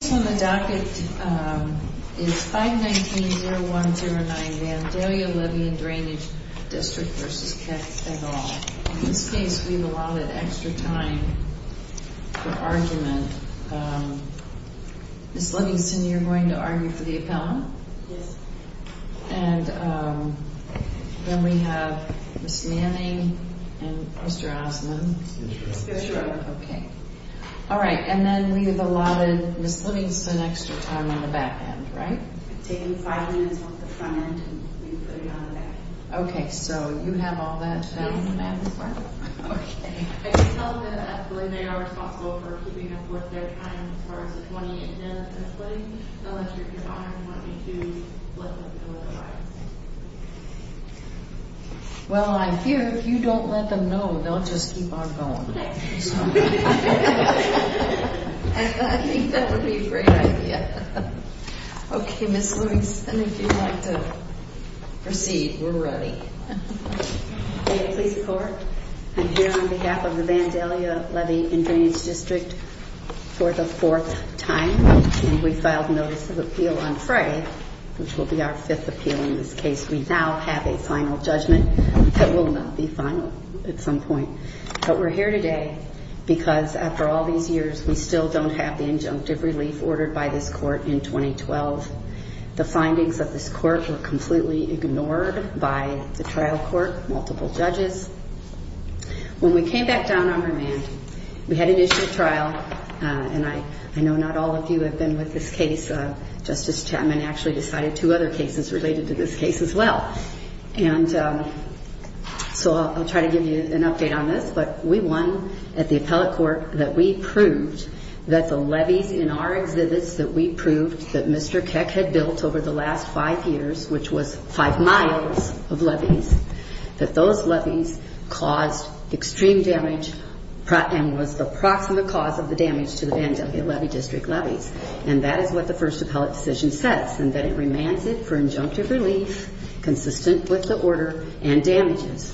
This one, the docket is 519-0109 Vandalia Levee & Drainage Dist. v. Keck et al. In this case, we've allotted extra time for argument. Ms. Livingston, you're going to argue for the appellant? Yes. And then we have Ms. Manning and Mr. Osmond. Mr. Osmond. Mr. Osmond. Alright, and then we've allotted Ms. Livingston extra time on the back end, right? Taking five minutes off the front end and putting it on the back end. Okay, so you have all that down the back? Yes, ma'am. Okay. I can tell them that they are responsible for keeping up with their time as far as the 28 minutes of splitting, unless you're honoring what we do, let them know that I am. Well, I fear if you don't let them know, they'll just keep on going. I think that would be a great idea. Okay, Ms. Livingston, if you'd like to proceed, we're ready. May it please the Court, I'm here on behalf of the Vandalia Levee & Drainage District for the fourth time, and we filed notice of appeal on Frey, which will be our fifth appeal in this case. We now have a final judgment that will not be final at some point. But we're here today because after all these years, we still don't have the injunctive relief ordered by this Court in 2012. The findings of this Court were completely ignored by the trial court, multiple judges. When we came back down on remand, we had an issue of trial, and I know not all of you have been with this case. Justice Chapman actually decided two other cases related to this case as well. And so I'll try to give you an update on this. But we won at the appellate court that we proved that the levees in our exhibits that we proved that Mr. Keck had built over the last five years, which was five miles of levees, that those levees caused extreme damage and was the proximate cause of the damage to the Vandalia Levee District levees. And that is what the first appellate decision says, and that it remands it for injunctive relief consistent with the order and damages.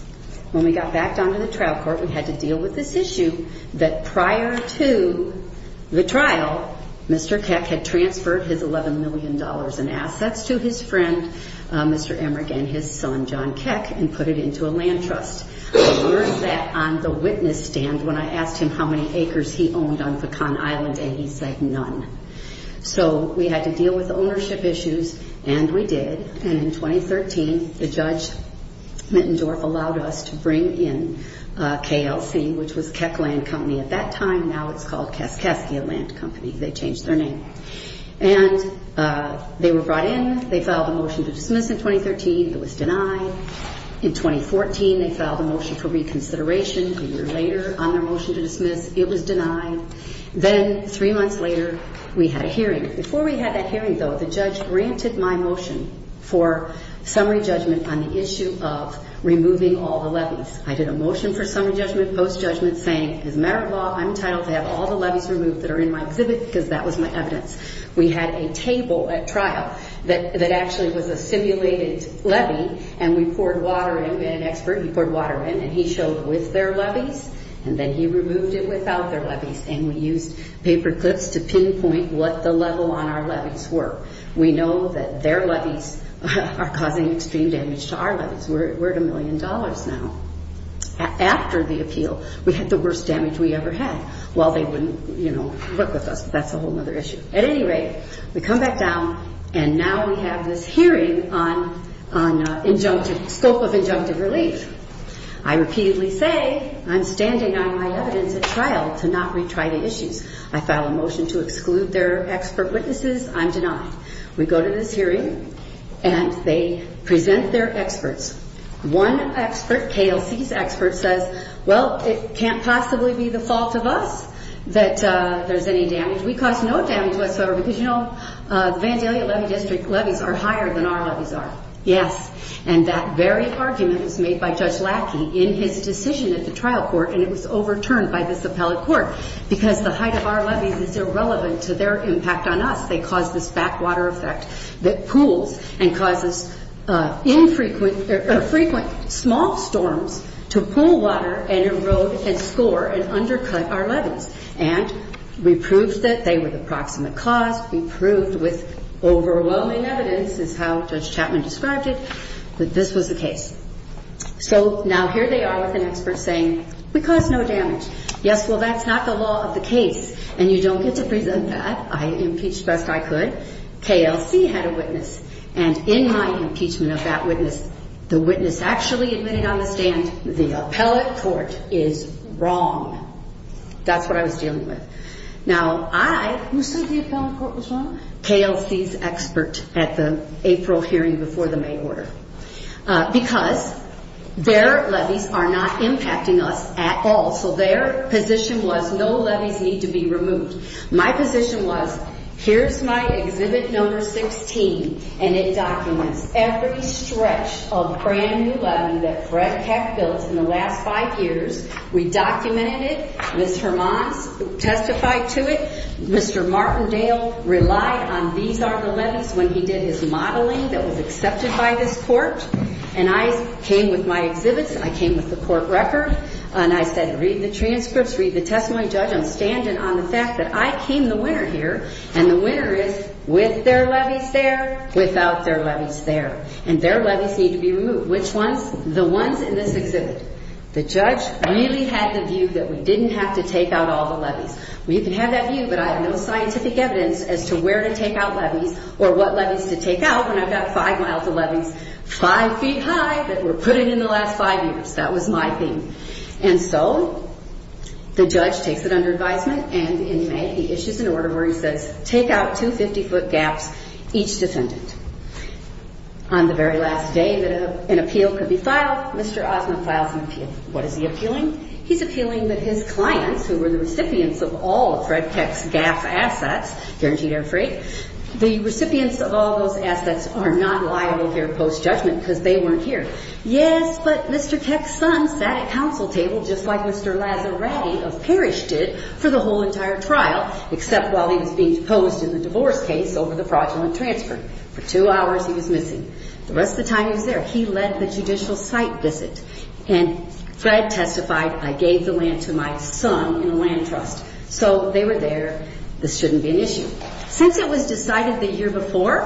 When we got back down to the trial court, we had to deal with this issue that prior to the trial, Mr. Keck had transferred his $11 million in assets to his friend, Mr. Emmerich, and his son, John Keck, and put it into a land trust. I learned that on the witness stand when I asked him how many acres he owned on Pecan Island, and he said none. So we had to deal with ownership issues, and we did. And in 2013, the judge, Mittendorf, allowed us to bring in KLC, which was Keck Land Company at that time. Now it's called Kaskaskia Land Company. They changed their name. And they were brought in. They filed a motion to dismiss in 2013. It was denied. In 2014, they filed a motion for reconsideration. A year later, on their motion to dismiss, it was denied. Then three months later, we had a hearing. Before we had that hearing, though, the judge granted my motion for summary judgment on the issue of removing all the levies. I did a motion for summary judgment, post-judgment, saying as a matter of law, I'm entitled to have all the levies removed that are in my exhibit because that was my evidence. We had a table at trial that actually was a simulated levy, and we poured water in. We had an expert. He poured water in, and he showed with their levies, and then he removed it without their levies, and we used paper clips to pinpoint what the level on our levies were. We know that their levies are causing extreme damage to our levies. We're at a million dollars now. After the appeal, we had the worst damage we ever had. Well, they wouldn't, you know, work with us, but that's a whole other issue. At any rate, we come back down, and now we have this hearing on injunctive, scope of injunctive relief. I repeatedly say I'm standing on my evidence at trial to not retry the issues. I file a motion to exclude their expert witnesses. I'm denied. We go to this hearing, and they present their experts. One expert, KLC's expert, says, well, it can't possibly be the fault of us that there's any damage. We cause no damage whatsoever because, you know, the Vandalia Levy District levies are higher than our levies are. Yes. And that very argument was made by Judge Lackey in his decision at the trial court, and it was overturned by this appellate court because the height of our levies is irrelevant to their impact on us. They cause this backwater effect that pools and causes infrequent or frequent small storms to pool water and erode and score and undercut our levies. And we proved that they were the proximate cause. We proved with overwhelming evidence, as how Judge Chapman described it, that this was the case. So now here they are with an expert saying, we cause no damage. Yes, well, that's not the law of the case, and you don't get to present that. I impeached best I could. KLC had a witness, and in my impeachment of that witness, the witness actually admitting on the stand the appellate court is wrong. That's what I was dealing with. Now, I, who said the appellate court was wrong? KLC's expert at the April hearing before the May order. Because their levies are not impacting us at all, so their position was no levies need to be removed. My position was, here's my Exhibit No. 16, and it documents every stretch of brand-new levy that Fred Keck built in the last five years. We documented it. Ms. Hermans testified to it. Mr. Martindale relied on these are the levies when he did his modeling that was accepted by this court. And I came with my exhibits. I came with the court record, and I said, read the transcripts, read the testimony. Judge, I'm standing on the fact that I came the winner here, and the winner is with their levies there, without their levies there. And their levies need to be removed. Which ones? The ones in this exhibit. The judge really had the view that we didn't have to take out all the levies. You can have that view, but I have no scientific evidence as to where to take out levies or what levies to take out when I've got five miles of levies, five feet high, that were put in in the last five years. That was my thing. And so the judge takes it under advisement, and in May he issues an order where he says, take out 250-foot gaps, each defendant. On the very last day that an appeal could be filed, Mr. Osmond files an appeal. What is he appealing? He's appealing that his clients, who were the recipients of all of Fred Keck's GAF assets, guaranteed air freight, the recipients of all those assets are not liable here post-judgment because they weren't here. Yes, but Mr. Keck's son sat at counsel table just like Mr. Lazzaratti of Parrish did for the whole entire trial, except while he was being deposed in the divorce case over the fraudulent transfer. For two hours he was missing. The rest of the time he was there. He led the judicial site visit. And Fred testified, I gave the land to my son in a land trust. So they were there. This shouldn't be an issue. Since it was decided the year before,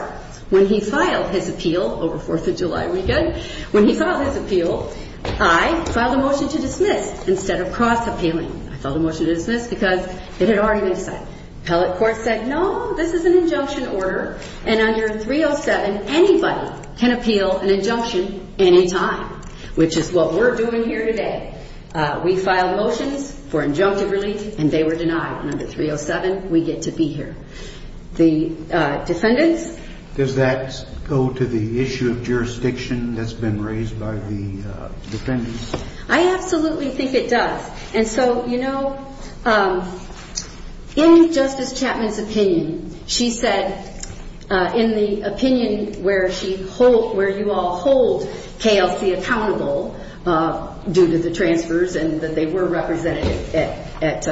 when he filed his appeal over Fourth of July weekend, when he filed his appeal, I filed a motion to dismiss instead of cross-appealing. I filed a motion to dismiss because it had already been decided. Appellate court said, no, this is an injunction order, and under 307 anybody can appeal an injunction any time, which is what we're doing here today. We filed motions for injunctive relief, and they were denied. Under 307 we get to be here. The defendants? Does that go to the issue of jurisdiction that's been raised by the defendants? I absolutely think it does. And so, you know, in Justice Chapman's opinion, she said in the opinion where you all hold KLC accountable due to the transfers and that they were represented at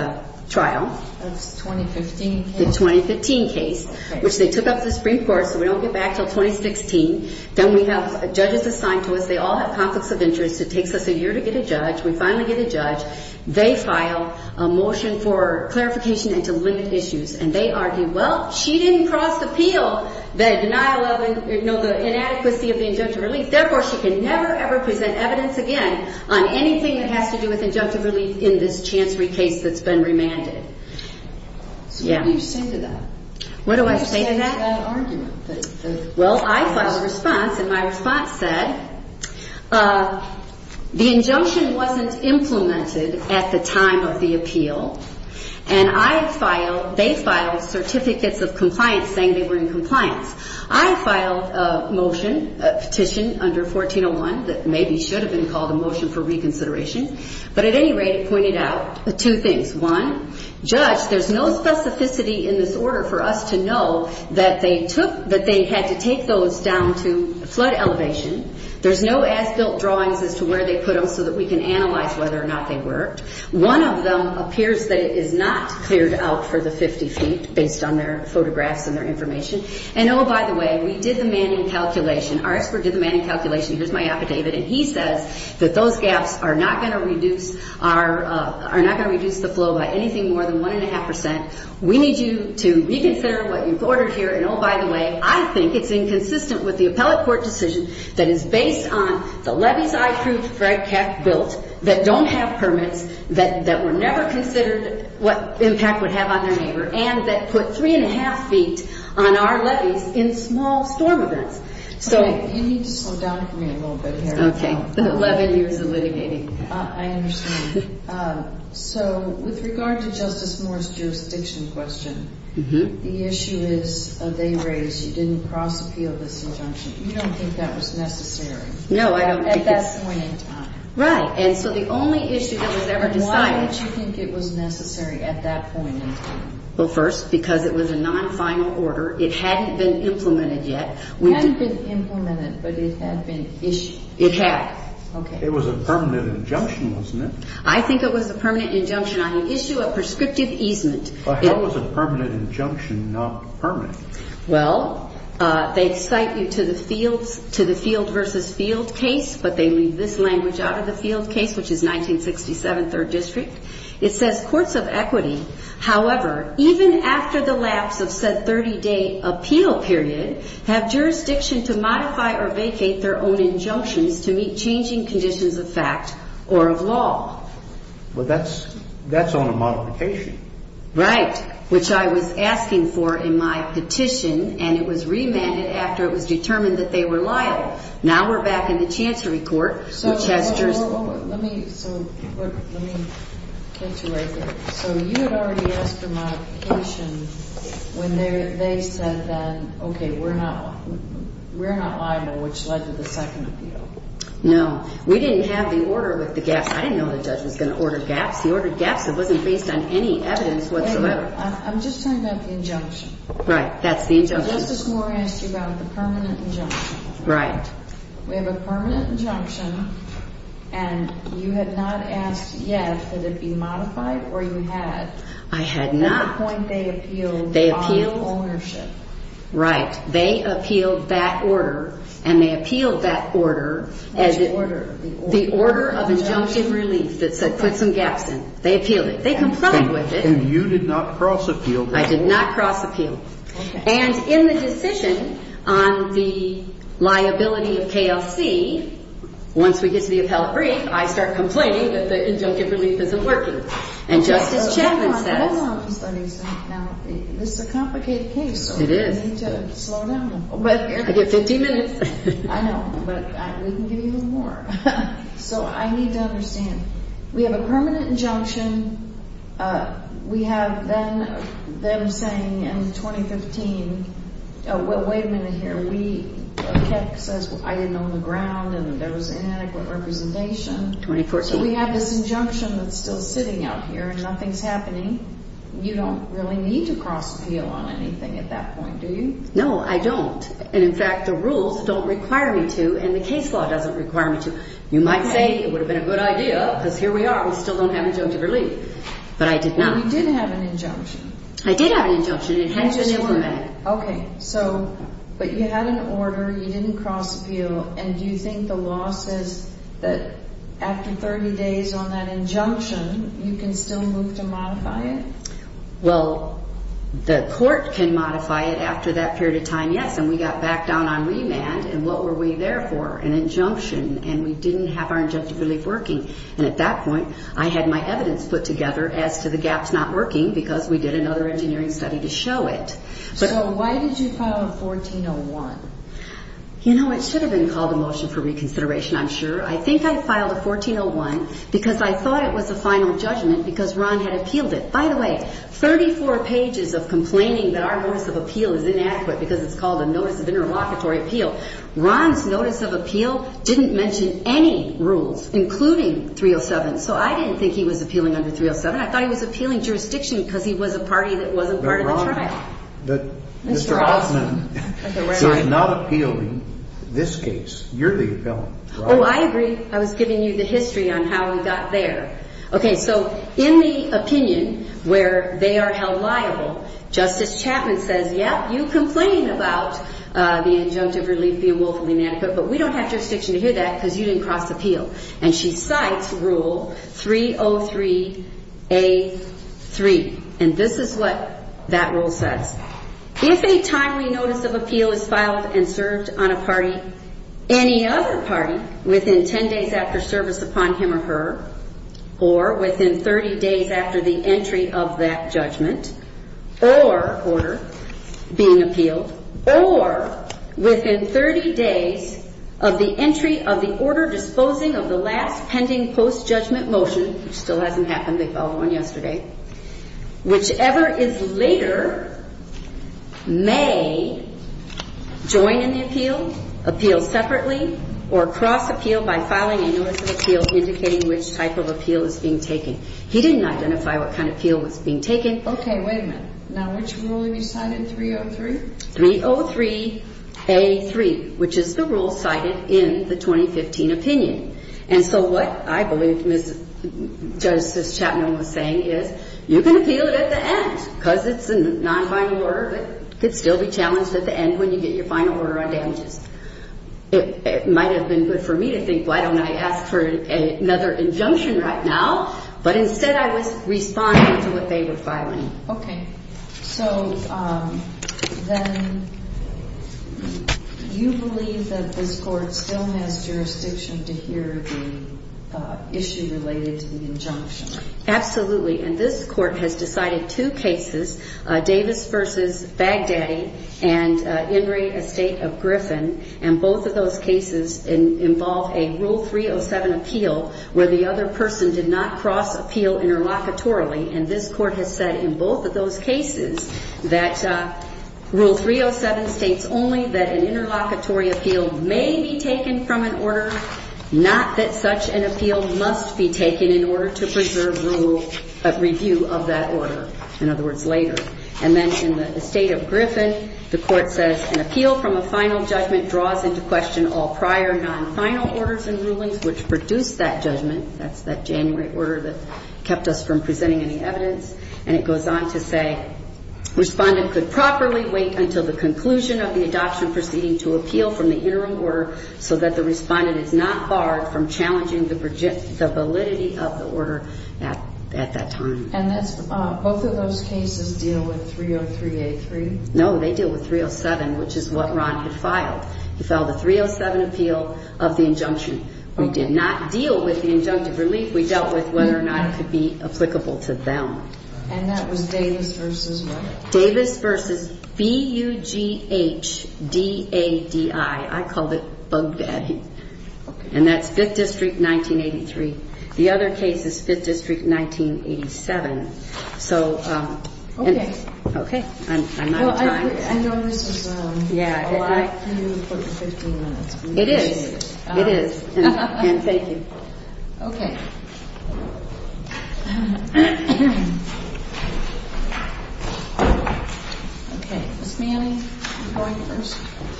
trial. The 2015 case? The 2015 case, which they took up the Supreme Court so we don't get back until 2016. Then we have judges assigned to us. They all have conflicts of interest. It takes us a year to get a judge. We finally get a judge. They file a motion for clarification and to limit issues, and they argue, well, she didn't cross-appeal the denial of the inadequacy of the injunctive relief. Therefore, she can never, ever present evidence again on anything that has to do with injunctive relief in this chancery case that's been remanded. So what do you say to that? What do I say to that? What do you say to that argument? Well, I filed a response, and my response said the injunction wasn't implemented at the time of the appeal, and I filed they filed certificates of compliance saying they were in compliance. I filed a motion, a petition under 1401 that maybe should have been called a motion for reconsideration, but at any rate it pointed out two things. One, judge, there's no specificity in this order for us to know that they had to take those down to flood elevation. There's no as-built drawings as to where they put them so that we can analyze whether or not they worked. One of them appears that it is not cleared out for the 50 feet based on their photographs and their information, and oh, by the way, we did the Manning calculation. Our expert did the Manning calculation. Here's my affidavit, and he says that those gaps are not going to reduce the flow by anything more than one and a half percent. We need you to reconsider what you've ordered here, and oh, by the way, I think it's inconsistent with the appellate court decision that is based on the levees I approved Fred Keck built that don't have permits, that were never considered what impact would have on their neighbor, and that put three and a half feet on our levees in small storm events. You need to slow down for me a little bit here. Okay. Eleven years of litigating. I understand. So with regard to Justice Moore's jurisdiction question, the issue is they raised you didn't cross-appeal this injunction. You don't think that was necessary. No, I don't think it was. At that point in time. Right, and so the only issue that was ever decided. Why did you think it was necessary at that point in time? Well, first, because it was a non-final order. It hadn't been implemented yet. It hadn't been implemented, but it had been issued. It had. Okay. It was a permanent injunction, wasn't it? I think it was a permanent injunction on the issue of prescriptive easement. But how was a permanent injunction not permanent? Well, they excite you to the field versus field case, but they leave this language out of the field case, which is 1967 Third District. It says courts of equity, however, even after the lapse of said 30-day appeal period, have jurisdiction to modify or vacate their own injunctions to meet changing conditions of fact or of law. Well, that's on a modification. Right, which I was asking for in my petition, and it was remanded after it was determined that they were liable. Now we're back in the Chancery Court, which has jurisdiction. Let me catch you right there. So you had already asked for modification when they said then, okay, we're not liable, which led to the second appeal. No. We didn't have the order with the gaps. I didn't know the judge was going to order gaps. He ordered gaps. It wasn't based on any evidence whatsoever. I'm just talking about the injunction. Right. That's the injunction. Justice Moore asked you about the permanent injunction. Right. We have a permanent injunction, and you had not asked yet, could it be modified, or you had? I had not. At what point they appealed the bottom ownership? Right. They appealed that order, and they appealed that order. Which order? The order of injunction relief that said put some gaps in. They appealed it. They complied with it. And you did not cross-appeal the order? I did not cross-appeal. Okay. And in the decision on the liability of KLC, once we get to the appellate brief, I start complaining that the injunction relief isn't working. And Justice Chapman says— Hold on. Hold on. Now, this is a complicated case. It is. We need to slow down. I get 15 minutes. I know, but we can give you a little more. So I need to understand. We have a permanent injunction. We have them saying in 2015—oh, wait a minute here. Keck says, I didn't own the ground, and there was inadequate representation. 2014. So we have this injunction that's still sitting out here, and nothing's happening. You don't really need to cross-appeal on anything at that point, do you? No, I don't. And, in fact, the rules don't require me to, and the case law doesn't require me to. So you might say it would have been a good idea, because here we are. We still don't have injunctive relief. But I did not. You did have an injunction. I did have an injunction. It had to be implemented. Okay. So, but you had an order. You didn't cross-appeal. And do you think the law says that after 30 days on that injunction, you can still move to modify it? Well, the court can modify it after that period of time, yes. And we got back down on remand. And what were we there for? An injunction. And we didn't have our injunctive relief working. And at that point, I had my evidence put together as to the gaps not working because we did another engineering study to show it. So why did you file a 1401? You know, it should have been called a motion for reconsideration, I'm sure. I think I filed a 1401 because I thought it was a final judgment because Ron had appealed it. By the way, 34 pages of complaining that our notice of appeal is inadequate because it's called a notice of interlocutory appeal. Ron's notice of appeal didn't mention any rules, including 307. So I didn't think he was appealing under 307. I thought he was appealing jurisdiction because he was a party that wasn't part of the trial. Mr. Hoffman, you're not appealing this case. You're the appellant. Oh, I agree. I was giving you the history on how we got there. Okay, so in the opinion where they are held liable, Justice Chapman says, yep, you complain about the injunctive relief being woefully inadequate, but we don't have jurisdiction to hear that because you didn't cross appeal. And she cites Rule 303A.3. And this is what that rule says. If a timely notice of appeal is filed and served on a party, any other party, within 10 days after service upon him or her, or within 30 days after the entry of that judgment, or order being appealed, or within 30 days of the entry of the order disposing of the last pending post-judgment motion, which still hasn't happened, they filed one yesterday, whichever is later may join in the appeal, appeal separately, or cross appeal by filing a notice of appeal indicating which type of appeal is being taken. He didn't identify what kind of appeal was being taken. Okay, wait a minute. Now, which rule have you cited, 303? 303A.3, which is the rule cited in the 2015 opinion. And so what I believe Justice Chapman was saying is you can appeal it at the end because it's a non-final order, but it could still be challenged at the end when you get your final order on damages. It might have been good for me to think, why don't I ask for another injunction right now, but instead I was responding to what they were filing. Okay. So then you believe that this Court still has jurisdiction to hear the issue related to the injunction? Absolutely. And this Court has decided two cases, Davis v. Baghdadi and In re Estate of Griffin, and both of those cases involve a Rule 307 appeal where the other person did not cross appeal interlocutorily, and this Court has said in both of those cases that Rule 307 states only that an interlocutory appeal may be taken from an order, not that such an appeal must be taken in order to preserve review of that order, in other words, later. And then in the Estate of Griffin, the Court says, an appeal from a final judgment draws into question all prior non-final orders and rulings which produce that judgment. That's that January order that kept us from presenting any evidence. And it goes on to say, respondent could properly wait until the conclusion of the adoption proceeding to appeal from the interim order so that the respondent is not barred from challenging the validity of the order at that time. And both of those cases deal with 303A3? No, they deal with 307, which is what Ron had filed. He filed a 307 appeal of the injunction. We did not deal with the injunctive relief. We dealt with whether or not it could be applicable to them. And that was Davis versus what? Davis versus B-U-G-H-D-A-D-I. I called it bug batting. Okay. And that's 5th District, 1983. The other case is 5th District, 1987. So, okay. Okay. I'm not trying to. Well, I know this is a lot for you for the 15 minutes. It is. It is. And thank you. Okay. Okay. Ms. Manning, you're going first.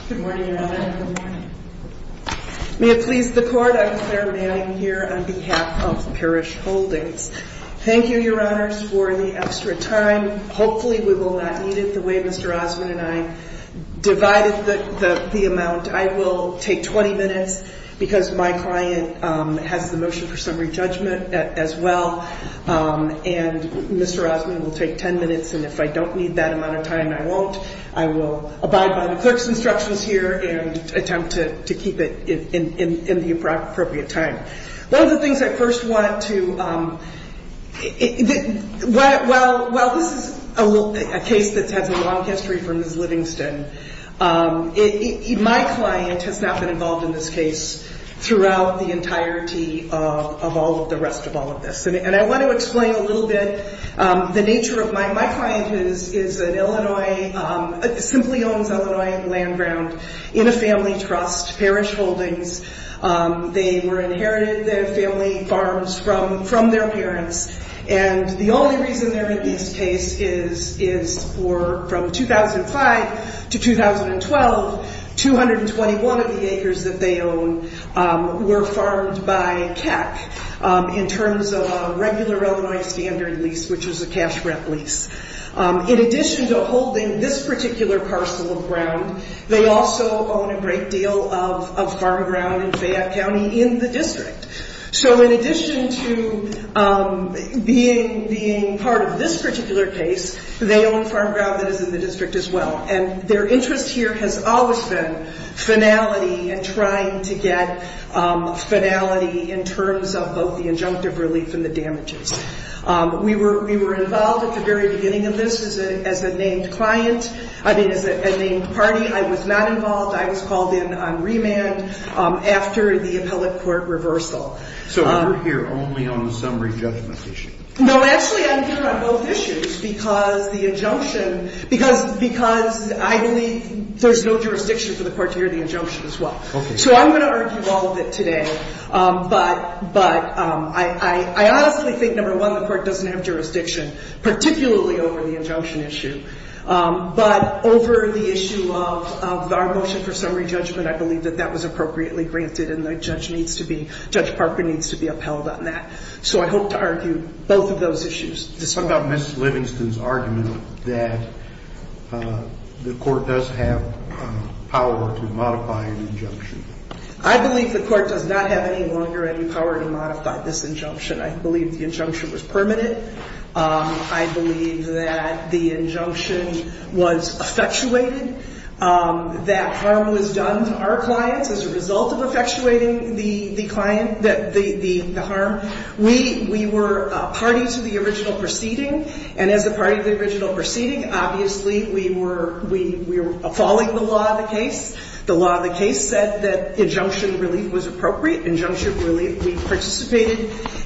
Good morning, Your Honor. Good morning. May it please the Court, I'm Clare Manning here on behalf of Parrish Holdings. Thank you, Your Honors, for the extra time. Hopefully we will not need it the way Mr. Osmond and I divided the amount. Thank you. Thank you. Thank you. Thank you. Thank you. Thank you. Thank you. Thank you. Thank you. Thank you. Thank you. I'm going to take about 10 minutes because my client has the motion for summary judgment as well and Mr. Osmond will take 10 minutes and if I don't need that amount of time and I won't, I will abide by the clerk's instructions here and attempt to keep it in the appropriate time. One of the things I first want to, well, this is a case that has a long history for Ms. Livingston. My client has not been involved in this case throughout the entirety of all of the rest of all of this and I want to explain a little bit the nature of my, my client is an Illinois, simply owns Illinois land ground in a family trust, parish holdings. They were inherited their family farms from their parents and the only reason they're in this case is, is for from 2005 to 2012, 221 of the acres that they own were farmed by CAC in terms of a regular Illinois standard lease, which was a cash rep lease. In addition to holding this particular parcel of ground, they also own a great deal of, of farm ground in Fayette County in the district. So in addition to being, being part of this particular case, they own farm ground that is in the district as well and their interest here has always been finality and trying to get finality in terms of both the injunctive relief and the damages. We were, we were involved at the very beginning of this as a, as a named client, I mean, as a named party. I was not involved, I was called in on remand after the appellate court reversal. So you're here only on the summary judgment issue? No, actually I'm here on both issues because the injunction, because, because I believe there's no jurisdiction for the court to hear the injunction as well. Okay. So I'm going to argue all of it today, but, but I, I honestly think number one, the court doesn't have any longer any power to modify this injunction. I believe that the injunction was affectuated. The motion for some re-judgment, I believe that that was appropriately granted and the judge needs to be, Judge Parker needs to be upheld on that. So I hope to argue both of those issues. What about Miss Livingston's argument that the court does have power to modify an injunction? I believe the court does not have any longer any power to modify this injunction. I believe the injunction was permanent. I believe that the injunction was effectuated. That harm was done to our clients as a result of effectuating the harm. We were a party to the original proceeding and as a party to the original proceeding, obviously we were following the law of the case. The law of the case said that injunction relief was appropriate. We participated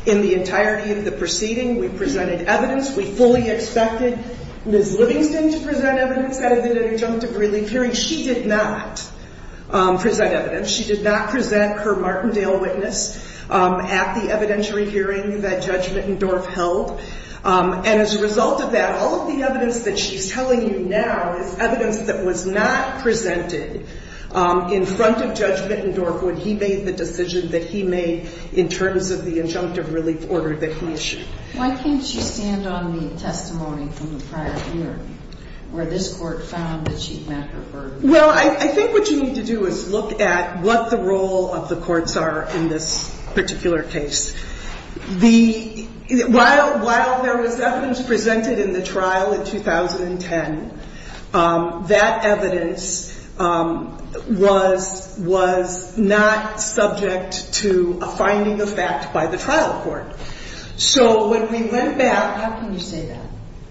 in the entirety of the proceeding. We presented evidence. We fully expected Miss Livingston to present evidence at an injunctive relief hearing. She did not present evidence. She did not present her Martindale witness at the evidentiary hearing that Judge Mittendorf held. And as a result of that, all of the evidence that she's telling you now is evidence that was not presented in front of Judge Mittendorf when he made the decision that he made in terms of the injunctive relief order that he issued. Why can't you stand on the testimony from the prior hearing where this court found that she met her burden? Well, I think what you need to do is look at what the role of the courts are in this particular case. While there was evidence presented in the trial in 2010, that evidence was not subject to a finding of fact by the trial court. So when we went back... How can you say that?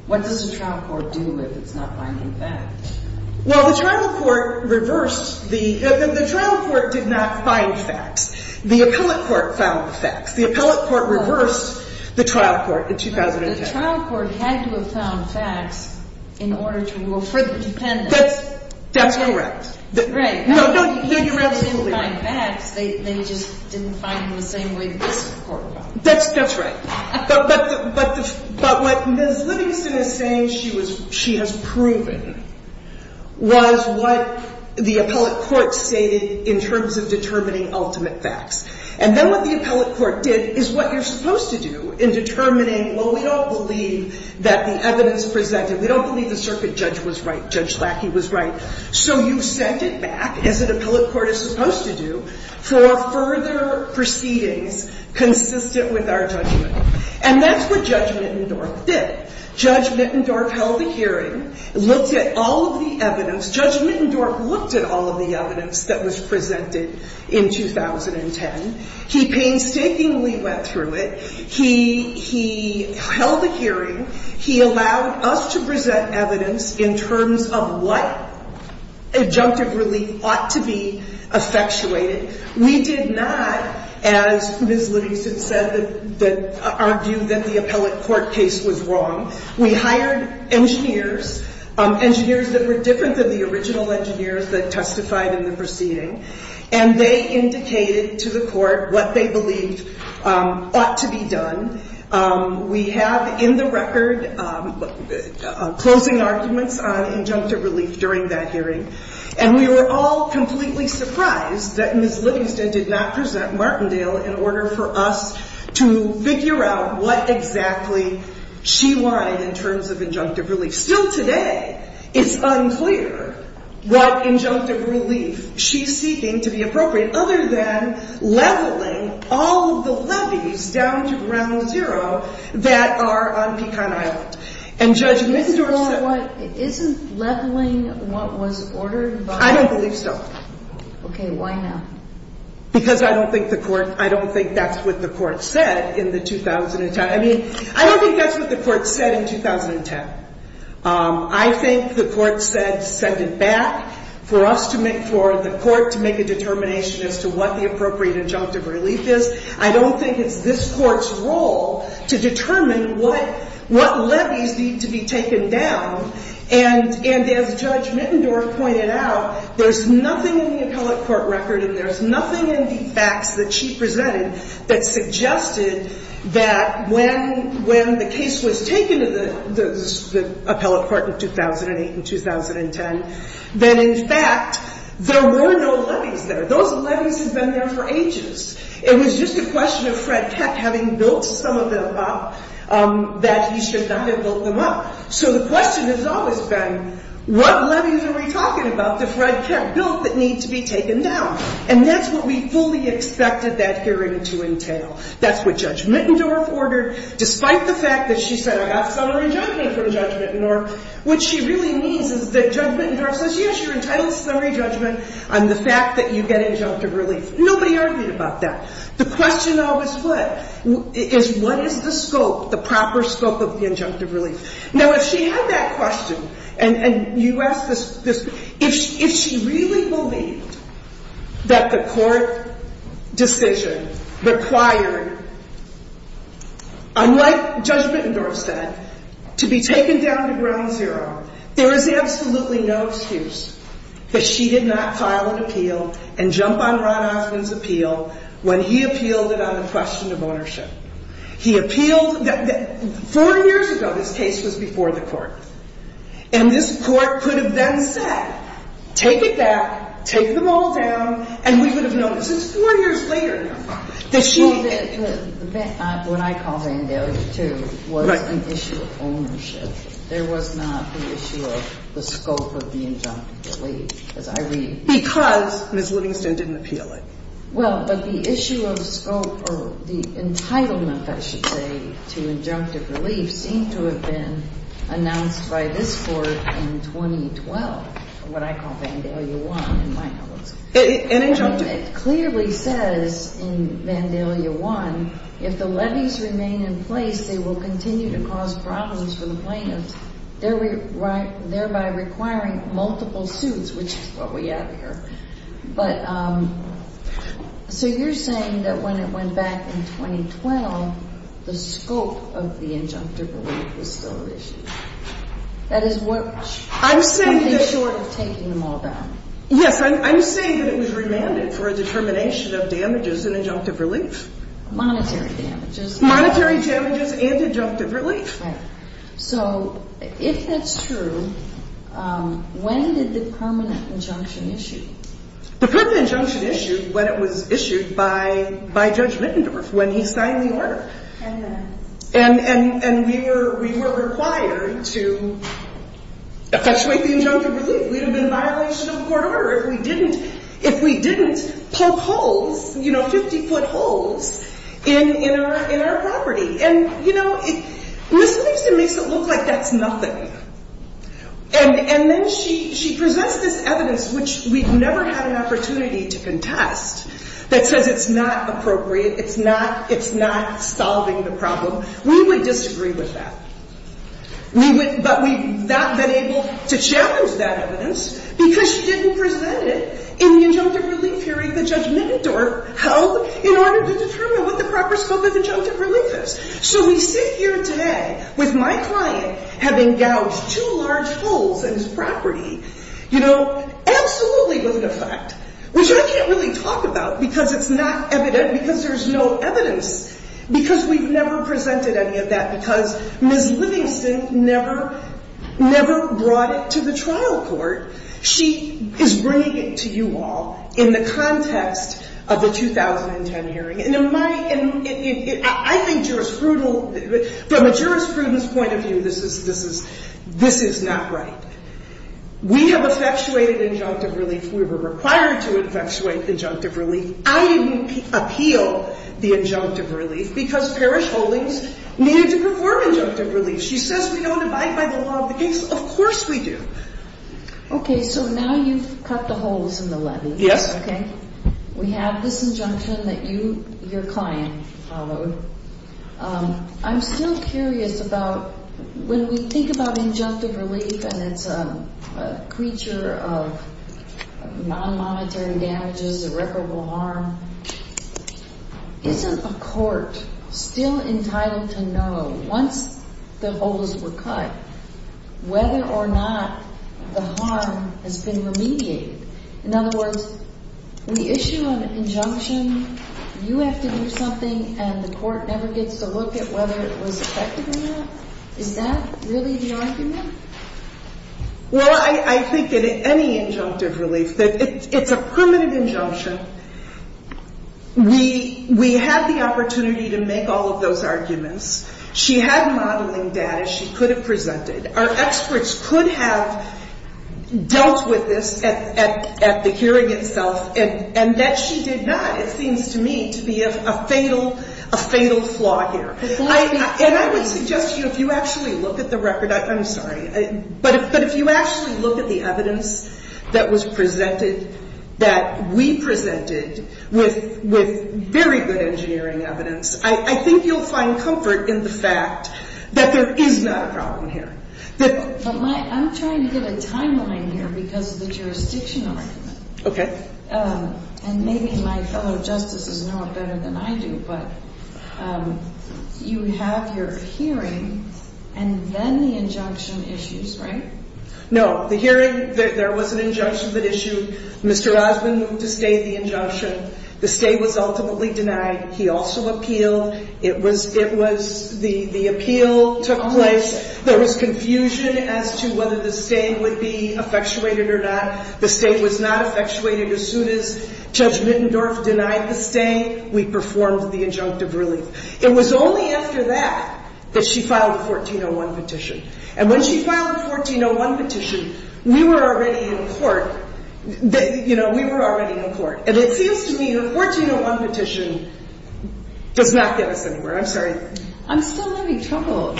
What does the trial court do if it's not finding facts? Well, the trial court reversed the... The trial court did not find facts. The appellate court found the facts. The appellate court reversed the trial court in 2010. But the trial court had to have found facts in order to rule for the defendant. That's correct. Right. No, you're absolutely right. They didn't find facts. They just didn't find them the same way this court found them. That's right. But what Ms. Livingston is saying she has proven was what the appellate court stated in terms of determining ultimate facts. And then what the appellate court did is what you're supposed to do in determining, well, we don't believe that the evidence presented... We don't believe the circuit judge was right, Judge Lackey was right. So you sent it back, as an appellate court is supposed to do, for further proceedings consistent with our judgment. And that's what Judge Mittendorf did. Judge Mittendorf held a hearing, looked at all of the evidence. Judge Mittendorf looked at all of the evidence that was presented in 2010. He painstakingly went through it. He held a hearing. He allowed us to present evidence in terms of what adjunctive relief ought to be effectuated. We did not, as Ms. Livingston said, argue that the appellate court case was wrong. We hired engineers, engineers that were different than the original engineers that testified in the proceeding. And they indicated to the court what they believed ought to be done. We have in the record closing arguments on adjunctive relief during that hearing. And we were all completely surprised that Ms. Livingston did not present Martindale in order for us to figure out what exactly she wanted in terms of adjunctive relief. Still today, it's unclear what adjunctive relief she's seeking to be appropriate, other than leveling all of the levees down to ground zero that are on Pecan Island. And Judge Mittendorf said- Isn't leveling what was ordered by- I don't believe so. Okay. Why not? Because I don't think the court, I don't think that's what the court said in the 2010. I mean, I don't think that's what the court said in 2010. I think the court said send it back for us to make, for the court to make a determination as to what the appropriate adjunctive relief is. I don't think it's this court's role to determine what levees need to be taken down. And as Judge Mittendorf pointed out, there's nothing in the appellate court record and there's nothing in the facts that she presented that suggested that when the case was taken to the appellate court in 2008 and 2010, that in fact, there were no levees there. Those levees have been there for ages. It was just a question of Fred Keck having built some of them up that he should not have built them up. So the question has always been, what levees are we talking about that Fred Keck built that need to be taken down? And that's what we fully expected that hearing to entail. That's what Judge Mittendorf ordered, despite the fact that she said, I got summary judgment from Judge Mittendorf. What she really means is that Judge Mittendorf says, yes, you're entitled to summary judgment on the fact that you get adjunctive relief. Nobody argued about that. The question always was, what is the scope, the proper scope of the adjunctive relief? Now, if she had that question and you asked this, if she really believed that the court decision required, unlike Judge Mittendorf said, to be taken down to ground zero, there is absolutely no excuse that she did not file an appeal and jump on Ron Osmond's appeal when he appealed it on the question of ownership. He appealed — 40 years ago, this case was before the court. And this court could have then said, take it back, take them all down, and we would have known. This is 40 years later now. That she — Well, what I call Vandalia II was an issue of ownership. There was not the issue of the scope of the adjunctive relief, as I read. Because Ms. Livingston didn't appeal it. Well, but the issue of scope or the entitlement, I should say, to adjunctive relief seemed to have been announced by this court in 2012, what I call Vandalia I, in my knowledge. An adjunctive — It clearly says in Vandalia I, if the levies remain in place, they will continue to cause problems for the plaintiffs, thereby requiring multiple suits, which is what we have here. But — so you're saying that when it went back in 2012, the scope of the adjunctive relief was still at issue. That is what — I'm saying that —— would be short of taking them all down. Yes. I'm saying that it was remanded for a determination of damages and adjunctive relief. Monetary damages. Monetary damages and adjunctive relief. Right. So if that's true, when did the permanent injunction issue? The permanent injunction issued when it was issued by Judge Lippendorf, when he signed the order. And we were required to effectuate the adjunctive relief. We would have been a violation of the court order if we didn't poke holes, you know, 50-foot holes in our property. And, you know, Ms. Lipson makes it look like that's nothing. And then she presents this evidence, which we've never had an opportunity to contest, that says it's not appropriate, it's not solving the problem. We would disagree with that. But we've not been able to challenge that evidence because she didn't present it in the adjunctive relief hearing that Judge Lippendorf held in order to determine what the proper scope of adjunctive relief is. So we sit here today with my client having gouged two large holes in his property, you know, absolutely with an effect, which I can't really talk about because it's not evident, because there's no evidence, because we've never presented any of that, because Ms. Livingston never brought it to the trial court. She is bringing it to you all in the context of the 2010 hearing. And I think jurisprudence, from a jurisprudence point of view, this is not right. We have effectuated adjunctive relief. We were required to effectuate adjunctive relief. I didn't appeal the adjunctive relief because parish holdings needed to perform adjunctive relief. She says we don't abide by the law of the case. Of course we do. Okay. So now you've cut the holes in the levy. Yes. Okay. We have this injunction that you, your client, followed. I'm still curious about when we think about adjunctive relief and it's a creature of nonmonetary damages, irreparable harm, isn't a court still entitled to know once the holes were cut whether or not the harm has been remediated? In other words, we issue an injunction, you have to do something, and the court never gets to look at whether it was effective or not? Is that really the argument? Well, I think that any adjunctive relief, it's a primitive injunction. We had the opportunity to make all of those arguments. She had modeling data she could have presented. Our experts could have dealt with this at the hearing itself, and that she did not, it seems to me, to be a fatal flaw here. And I would suggest to you if you actually look at the record, I'm sorry, but if you actually look at the evidence that was presented that we presented with very good engineering evidence, I think you'll find comfort in the fact that there is not a problem here. I'm trying to get a timeline here because of the jurisdiction argument. Okay. And maybe my fellow justices know it better than I do, but you have your hearing and then the injunction issues, right? No. The hearing, there was an injunction that issued. Mr. Osmond moved to stay the injunction. The stay was ultimately denied. He also appealed. It was the appeal took place. There was confusion as to whether the stay would be effectuated or not. The stay was not effectuated. As soon as Judge Mittendorf denied the stay, we performed the adjunctive relief. It was only after that that she filed the 1401 petition. And when she filed the 1401 petition, we were already in court. You know, we were already in court. And it seems to me the 1401 petition does not get us anywhere. I'm sorry. I'm still having trouble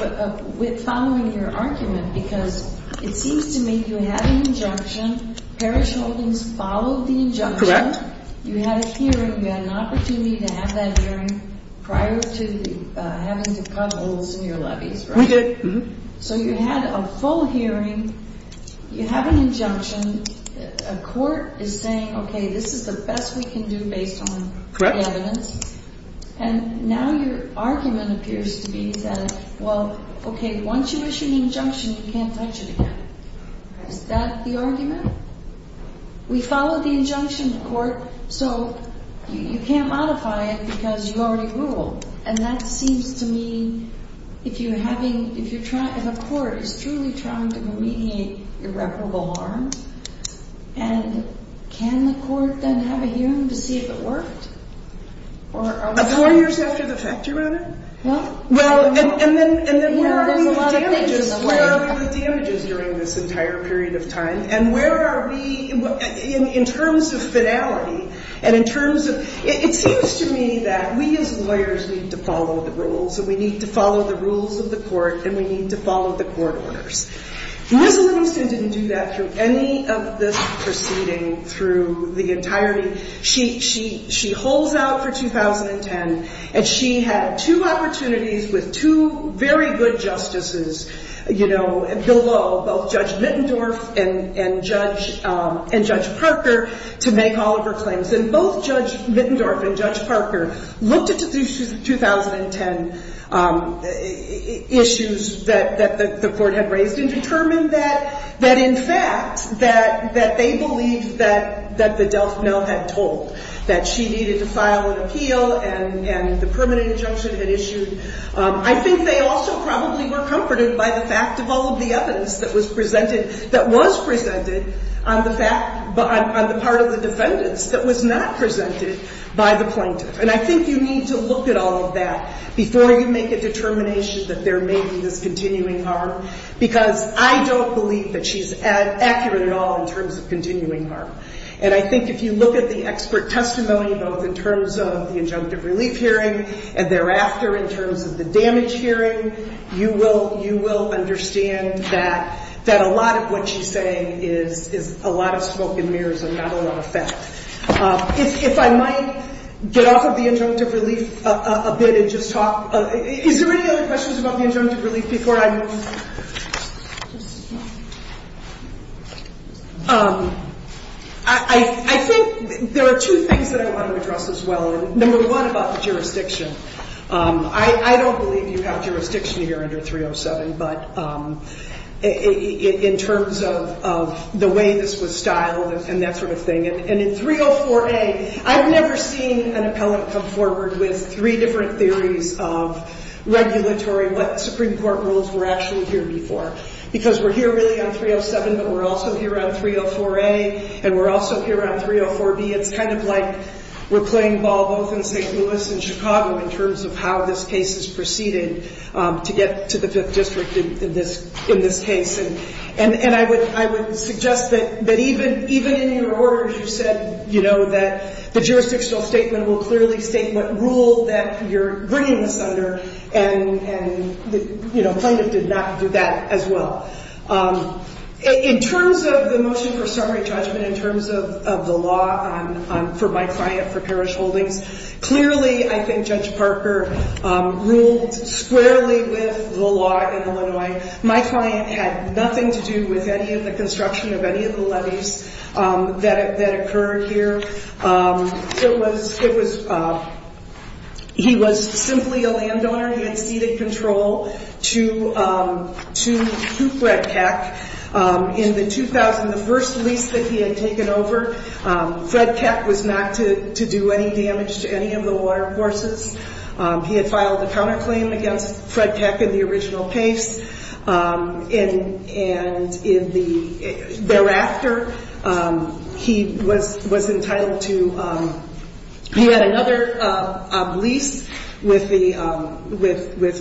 with following your argument because it seems to me you had an injunction. Parish Holdings followed the injunction. Correct. You had a hearing. You had an opportunity to have that hearing prior to having to cut holes in your levies, right? We did. So you had a full hearing. You have an injunction. A court is saying, okay, this is the best we can do based on the evidence. Correct. And now your argument appears to be that, well, okay, once you issue the injunction, you can't touch it again. Is that the argument? We followed the injunction in court. So you can't modify it because you already ruled. And that seems to me, if you're having, if a court is truly trying to remediate irreparable harm, and can the court then have a hearing to see if it worked? Four years after the fact, Your Honor. Well, and then where are we with damages? There's a lot of things in the way. Where are we with damages during this entire period of time? And where are we in terms of finality? And in terms of, it seems to me that we as lawyers need to follow the rules, and we need to follow the rules of the court, and we need to follow the court orders. Ms. Livingston didn't do that through any of this proceeding through the entirety. She holds out for 2010, and she had two opportunities with two very good justices below, both Judge Mittendorf and Judge Parker, to make all of her claims. And both Judge Mittendorf and Judge Parker looked at the 2010 issues that the court had raised and determined that, in fact, that they believed that the Delph-Mel had told, that she needed to file an appeal and the permanent injunction had issued. I think they also probably were comforted by the fact of all of the evidence that was presented, that was presented on the part of the defendants that was not presented by the plaintiff. And I think you need to look at all of that before you make a determination that there may be this continuing harm, because I don't believe that she's accurate at all in terms of continuing harm. And I think if you look at the expert testimony, both in terms of the injunctive relief hearing and thereafter in terms of the damage hearing, you will understand that a lot of what she's saying is a lot of smoke and mirrors and not a lot of fact. If I might get off of the injunctive relief a bit and just talk. Is there any other questions about the injunctive relief before I move? I think there are two things that I want to address as well. Number one about the jurisdiction. I don't believe you have jurisdiction here under 307, but in terms of the way this was styled and that sort of thing. And in 304A, I've never seen an appellant come forward with three different theories of regulatory, what Supreme Court rules were actually here before. Because we're here really on 307, but we're also here on 304A and we're also here on 304B. It's kind of like we're playing ball both in St. Louis and Chicago in terms of how this case is proceeded to get to the Fifth District in this case. And I would suggest that even in your orders you said that the jurisdictional statement will clearly state what rule that you're bringing this under and plaintiff did not do that as well. In terms of the motion for summary judgment, in terms of the law for my client for parish holdings, clearly I think Judge Parker ruled squarely with the law in Illinois. My client had nothing to do with any of the construction of any of the levees that occurred here. He was simply a landowner. He had ceded control to Fred Keck. In the first lease that he had taken over, Fred Keck was not to do any damage to any of the watercourses. He had filed a counterclaim against Fred Keck in the original case. And thereafter, he was entitled to another lease with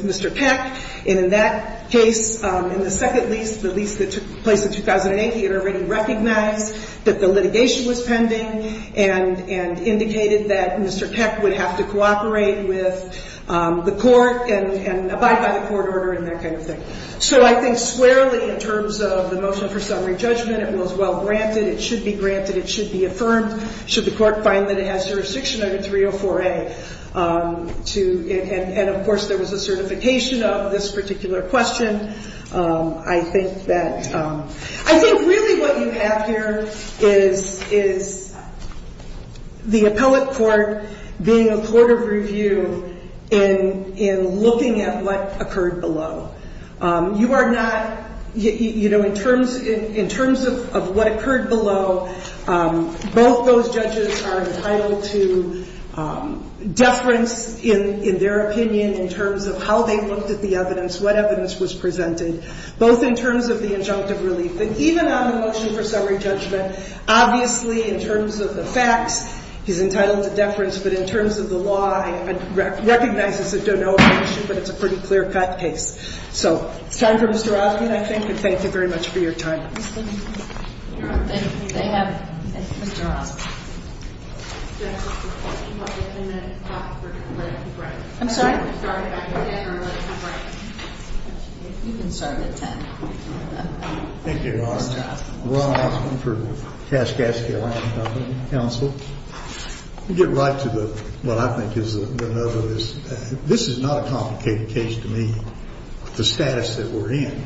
Mr. Keck. And in that case, in the second lease, the lease that took place in 2008, he had already recognized that the litigation was pending and indicated that Mr. Keck would have to cooperate with the court and abide by the court order and that kind of thing. So I think squarely in terms of the motion for summary judgment, it was well-granted. It should be granted. It should be affirmed. Should the court find that it has jurisdiction under 304A? And, of course, there was a certification of this particular question. I think really what you have here is the appellate court being a court of review in looking at what occurred below. You are not, you know, in terms of what occurred below, both those judges are entitled to deference in their opinion in terms of how they looked at the evidence, what evidence was presented, both in terms of the injunctive relief. And even on the motion for summary judgment, obviously, in terms of the facts, he's entitled to deference. But in terms of the law, it recognizes that there's no objection, but it's a pretty clear-cut case. So it's time for Mr. Osby, I think. And thank you very much for your time. MS. OSBY. They have Mr. Osby. I'm sorry? You can start at 10. Thank you, Your Honor. Ron Osby for Kaskaskia-Lincoln Counsel. Let me get right to what I think is the nub of this. This is not a complicated case to me, the status that we're in.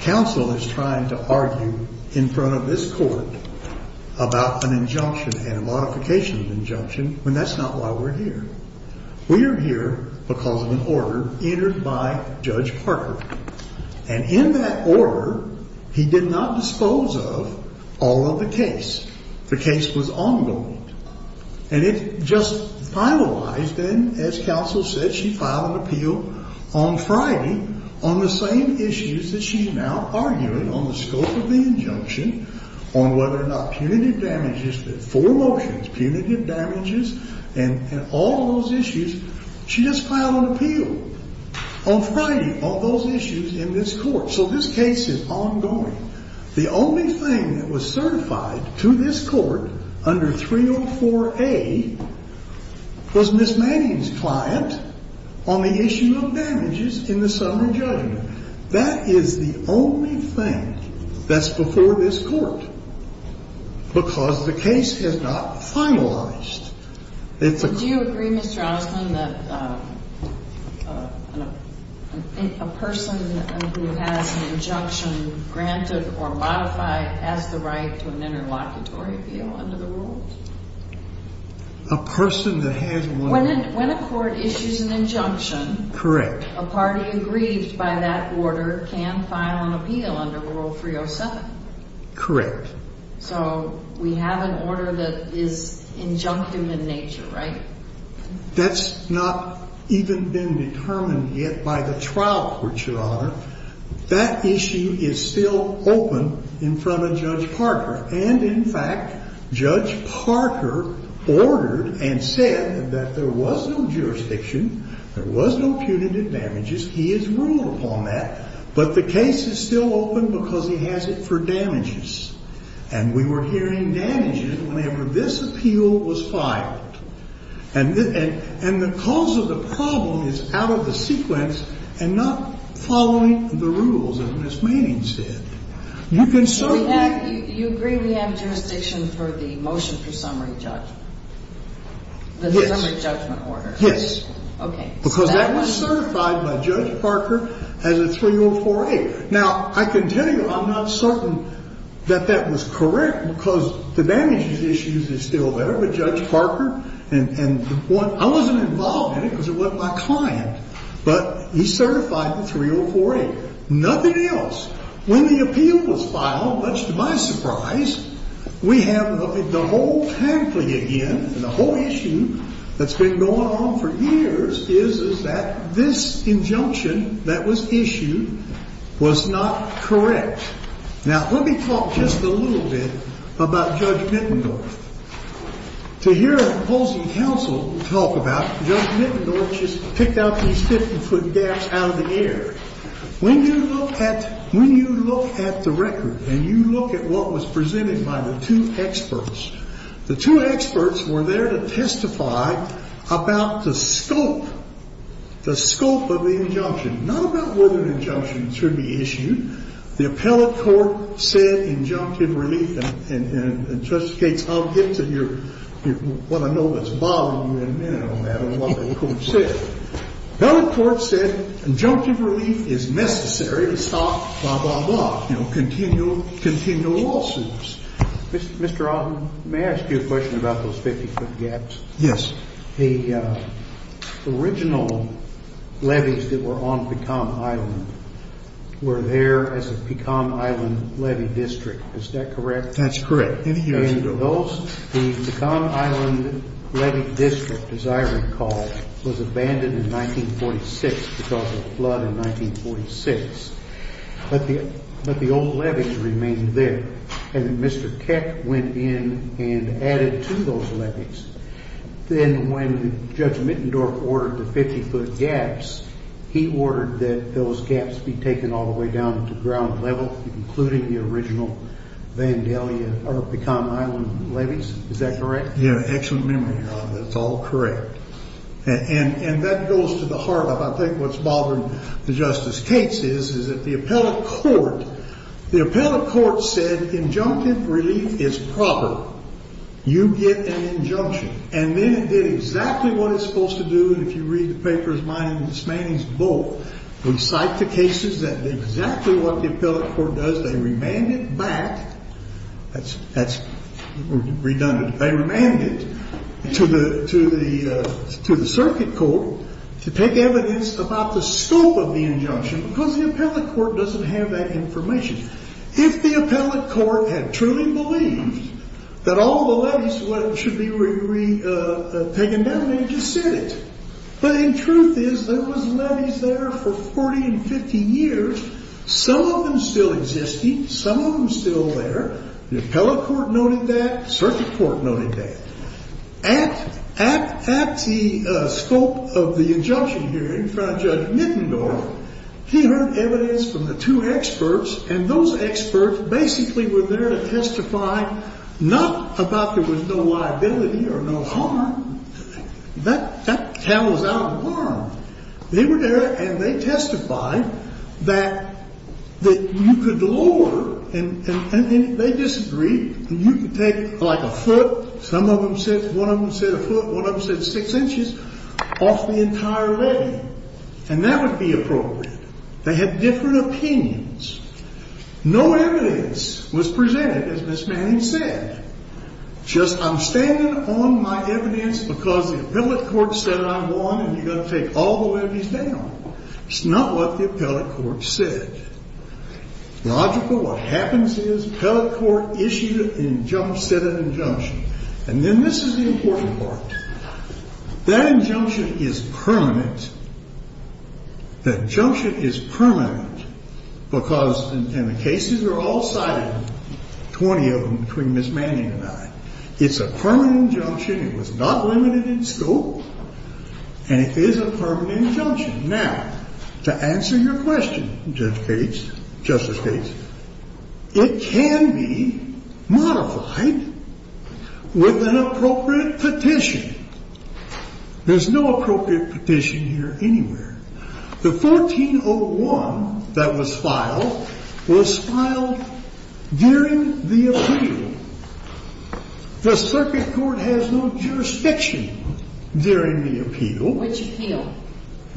Counsel is trying to argue in front of this Court about an injunction and a modification of injunction, and that's not why we're here. We are here because of an order entered by Judge Parker. And in that order, he did not dispose of all of the case. The case was ongoing. And it just finalized, and as counsel said, she filed an appeal on Friday on the same issues that she's now arguing on the scope of the injunction, on whether or not punitive damages, the four motions, punitive damages, and all those issues. She just filed an appeal on Friday on those issues in this Court. So this case is ongoing. The only thing that was certified to this Court under 304A was Ms. Manning's client on the issue of damages in the summary judgment. That is the only thing that's before this Court because the case has not finalized. It's a... Do you agree, Mr. Osmond, that a person who has an injunction granted or modified has the right to an interlocutory appeal under the rules? A person that has one... When a court issues an injunction... Correct. A party aggrieved by that order can file an appeal under Rule 307. Correct. So we have an order that is injunctive in nature, right? That's not even been determined yet by the trial court, Your Honor. That issue is still open in front of Judge Parker. And, in fact, Judge Parker ordered and said that there was no jurisdiction, there was no punitive damages. He has ruled upon that. But the case is still open because he has it for damages. And we were hearing damages whenever this appeal was filed. And the cause of the problem is out of the sequence and not following the rules, as Ms. Manning said. You can certainly... So you agree we have jurisdiction for the motion for summary judgment? Yes. The summary judgment order. Yes. Okay. Because that was certified by Judge Parker as a 304A. Now, I can tell you I'm not certain that that was correct because the damages issue is still there. But Judge Parker and the one... I wasn't involved in it because it wasn't my client. But he certified the 304A. Nothing else. When the appeal was filed, much to my surprise, we have the whole pamphlet again, and the whole issue that's been going on for years is that this injunction that was issued was not correct. Now, let me talk just a little bit about Judge Mittendorf. To hear opposing counsel talk about Judge Mittendorf just picked out these 50-foot gaps out of the air. When you look at the record and you look at what was presented by the two experts, the two experts were there to testify about the scope, the scope of the injunction, not about what an injunction should be issued. The appellate court said injunctive relief, and, Judge Gates, I'll get to your what I know that's bothering you in a minute, no matter what the court said. The appellate court said injunctive relief is necessary to stop blah, blah, blah, you know, continual lawsuits. Mr. Alton, may I ask you a question about those 50-foot gaps? Yes. The original levees that were on Pecom Island were there as a Pecom Island levee district. Is that correct? That's correct. Any years ago. The Pecom Island levee district, as I recall, was abandoned in 1946 because of a flood in 1946. But the old levees remained there, and Mr. Keck went in and added to those levees. Then when Judge Mittendorf ordered the 50-foot gaps, he ordered that those gaps be taken all the way down to ground level, including the original Vandalia or Pecom Island levees. Is that correct? You have excellent memory, Your Honor. That's all correct. And that goes to the heart of, I think, what's bothering Justice Gates is, that the appellate court said injunctive relief is proper. You get an injunction. And then it did exactly what it's supposed to do. And if you read the papers, mine and Ms. Manning's both, we cite the cases that did exactly what the appellate court does. They remanded back. That's redundant. They remanded it to the circuit court to take evidence about the scope of the injunction because the appellate court doesn't have that information. If the appellate court had truly believed that all the levees should be taken down, they just said it. But the truth is, there was levees there for 40 and 50 years. Some of them still existed. Some of them still there. The appellate court noted that. Circuit court noted that. At the scope of the injunction hearing in front of Judge Nittendorf, he heard evidence from the two experts, and those experts basically were there to testify not about there was no liability or no harm. That cow was out of harm. They were there, and they testified that you could lower, and they disagreed, and you could take like a foot, some of them said one of them said a foot, one of them said six inches, off the entire levee, and that would be appropriate. They had different opinions. No evidence was presented, as Ms. Manning said, just I'm standing on my evidence because the appellate court said I'm wrong and you've got to take all the levees down. It's not what the appellate court said. Logical, what happens is the appellate court issued an injunction, said an injunction, and then this is the important part. That injunction is permanent. That injunction is permanent because in the cases that are all cited, 20 of them between Ms. Manning and I, it's a permanent injunction. It was not limited in scope, and it is a permanent injunction. Now, to answer your question, Judge Gates, Justice Gates, it can be modified with an appropriate petition. There's no appropriate petition here anywhere. The 1401 that was filed was filed during the appeal. The circuit court has no jurisdiction during the appeal. Which appeal?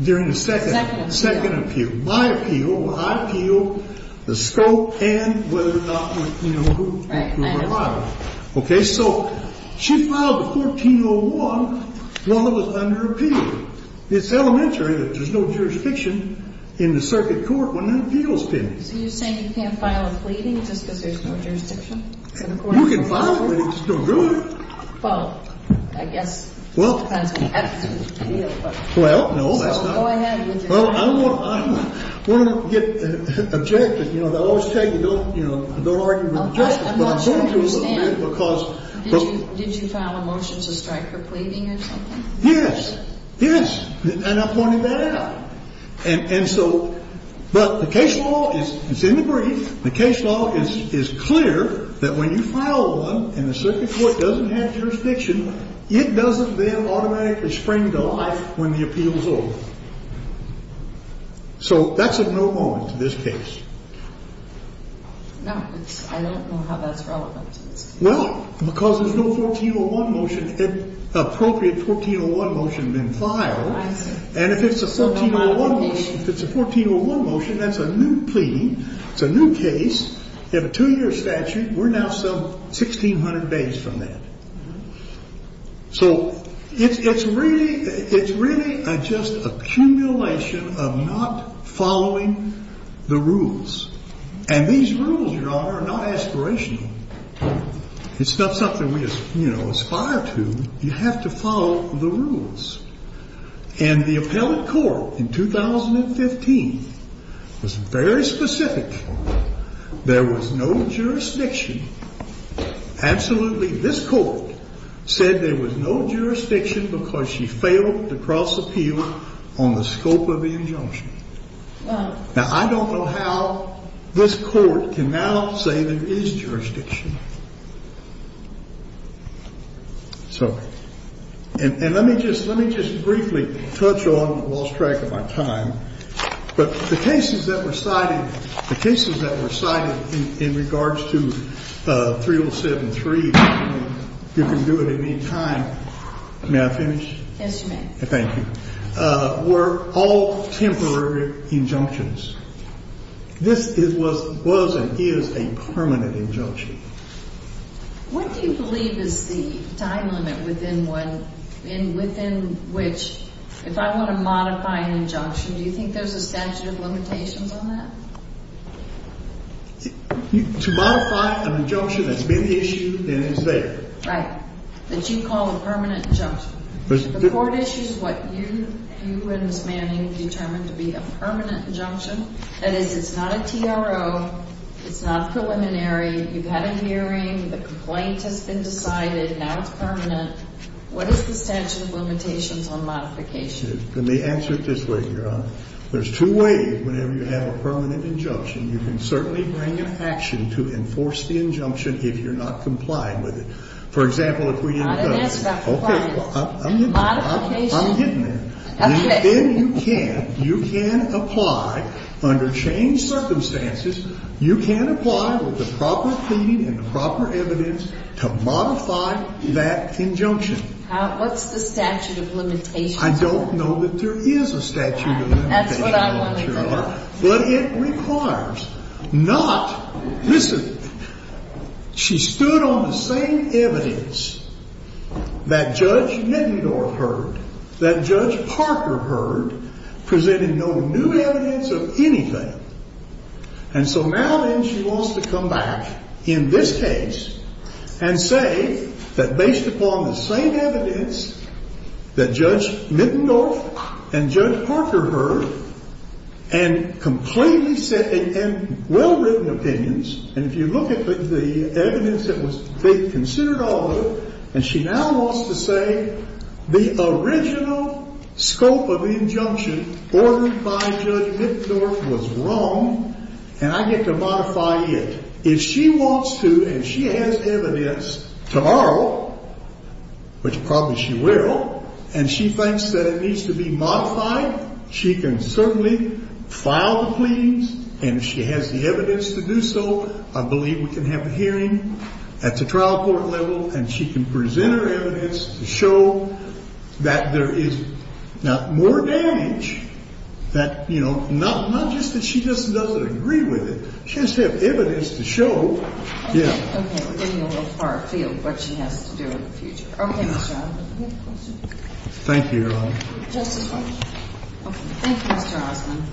During the second. Second appeal. My appeal. I appeal the scope and whether or not, you know, who filed it. Right. Okay. So she filed the 1401 while it was under appeal. It's elementary that there's no jurisdiction in the circuit court when an appeal is pending. So you're saying you can't file a pleading just because there's no jurisdiction? You can file a pleading. It's no good. Well, I guess. Well. Well, no, that's not. Go ahead. Well, I don't want to get objective. You know, they always tell you don't, you know, don't argue with justice. But I'm going to a little bit because. Did you file a motion to strike her pleading or something? Yes. Yes. And I pointed that out. And so but the case law is in the brief. The case law is clear that when you file one and the circuit court doesn't have jurisdiction, it doesn't then automatically spring to life when the appeal is over. So that's a no moment to this case. No, I don't know how that's relevant. Well, because there's no 1401 motion, appropriate 1401 motion been filed. And if it's a 1401 motion, that's a new pleading. It's a new case. You have a two year statute. We're now some sixteen hundred days from that. So it's really it's really just accumulation of not following the rules. And these rules are not aspirational. It's not something we aspire to. You have to follow the rules. And the appellate court in 2015 was very specific. There was no jurisdiction. Absolutely. This court said there was no jurisdiction because she failed to cross appeal on the scope of the injunction. Now, I don't know how this court can now say there is jurisdiction. So and let me just let me just briefly touch on lost track of my time. But the cases that were cited, the cases that were cited in regards to 3073, you can do it in the meantime. May I finish? Yes, you may. Thank you. Were all temporary injunctions. This was and is a permanent injunction. What do you believe is the time limit within one in within which if I want to modify an injunction, do you think there's a statute of limitations on that? To modify an injunction that's been issued and is there. Right. That you call a permanent injunction. The court issues what you and Ms. Manning determined to be a permanent injunction. That is, it's not a TRO. It's not preliminary. You've had a hearing. The complaint has been decided. Now it's permanent. What is the statute of limitations on modification? Let me answer it this way, Your Honor. There's two ways whenever you have a permanent injunction. You can certainly bring an action to enforce the injunction if you're not compliant with it. For example, if we. I didn't ask about compliance. Okay. Modification. I'm getting there. Okay. Then you can. You can apply under changed circumstances. You can apply with the proper cleaning and proper evidence to modify that injunction. What's the statute of limitations on that? I don't know that there is a statute of limitations on that, Your Honor. That's what I wanted to know. But it requires not. Listen. She stood on the same evidence that Judge Nettendorf heard, that Judge Parker heard, presenting no new evidence of anything. And so now then she wants to come back in this case and say that based upon the same evidence that Judge Nettendorf and Judge Parker heard, and well-written opinions, and if you look at the evidence that was considered all of it, and she now wants to say the original scope of the injunction ordered by Judge Nettendorf was wrong, and I get to modify it. If she wants to and she has evidence tomorrow, which probably she will, and she thinks that it needs to be modified, she can certainly file the pleas, and if she has the evidence to do so, I believe we can have a hearing at the trial court level and she can present her evidence to show that there is not more damage, that, you know, not just that she just doesn't agree with it. She has to have evidence to show. Yeah. Okay. We're getting a little far afield what she has to do in the future. Okay. Thank you, Your Honor. Thank you, Mr. Osmond.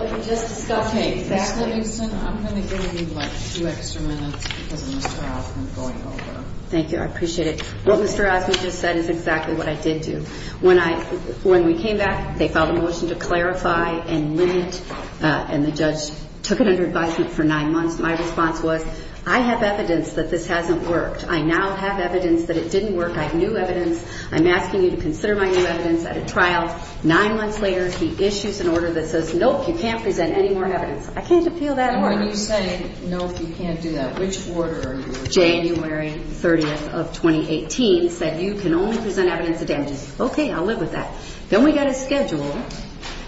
Okay. Ms. Livingston, I'm going to give you, like, two extra minutes because of Mr. Osmond going over. Thank you. I appreciate it. What Mr. Osmond just said is exactly what I did do. When I – when we came back, they filed a motion to clarify and limit, and the judge took it under advisement for nine months. My response was, I have evidence that this hasn't worked. I now have evidence that it didn't work. I have new evidence. I'm asking you to consider my new evidence at a trial. Nine months later, he issues an order that says, nope, you can't present any more evidence. I can't appeal that order. And when you say, nope, you can't do that, which order are you referring to? January 30th of 2018 said you can only present evidence of damages. Okay. I'll live with that. Then we got a schedule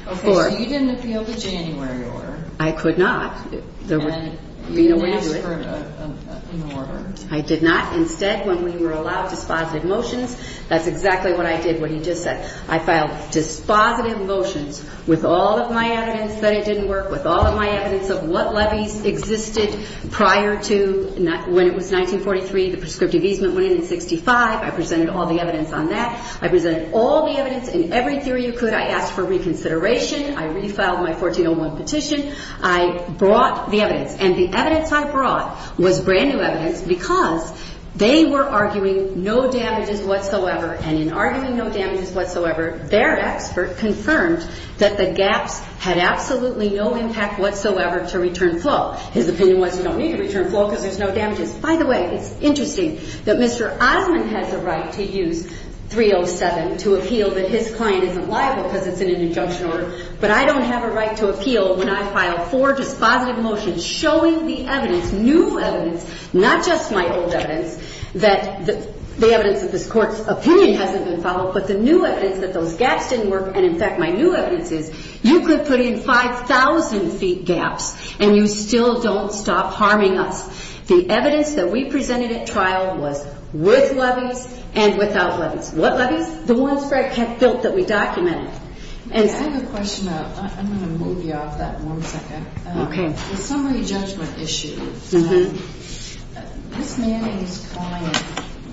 for – Okay. So you didn't appeal the January order. I could not. There would be no way to do it. And you didn't ask for an order. I did not. Instead, when we were allowed dispositive motions, that's exactly what I did, what he just said. I filed dispositive motions with all of my evidence that it didn't work, with all of my evidence of what levies existed prior to – when it was 1943, the prescriptive easement went in in 65. I presented all the evidence on that. I presented all the evidence in every theory you could. I asked for reconsideration. I refiled my 1401 petition. I brought the evidence. And the evidence I brought was brand-new evidence because they were arguing no damages whatsoever. And in arguing no damages whatsoever, their expert confirmed that the gaps had absolutely no impact whatsoever to return flow. His opinion was you don't need to return flow because there's no damages. By the way, it's interesting that Mr. Osmond has a right to use 307 to appeal that his client isn't liable because it's in an injunction order. But I don't have a right to appeal when I file four dispositive motions showing the evidence, new evidence, not just my old evidence, that the evidence of this Court's opinion hasn't been followed, but the new evidence that those gaps didn't work. And, in fact, my new evidence is you could put in 5,000-feet gaps and you still don't stop harming us. The evidence that we presented at trial was with levies and without levies. What levies? The ones Fred Peck built that we documented. I have a question. I'm going to move you off that in one second. Okay. The summary judgment issue, Ms. Manning's client,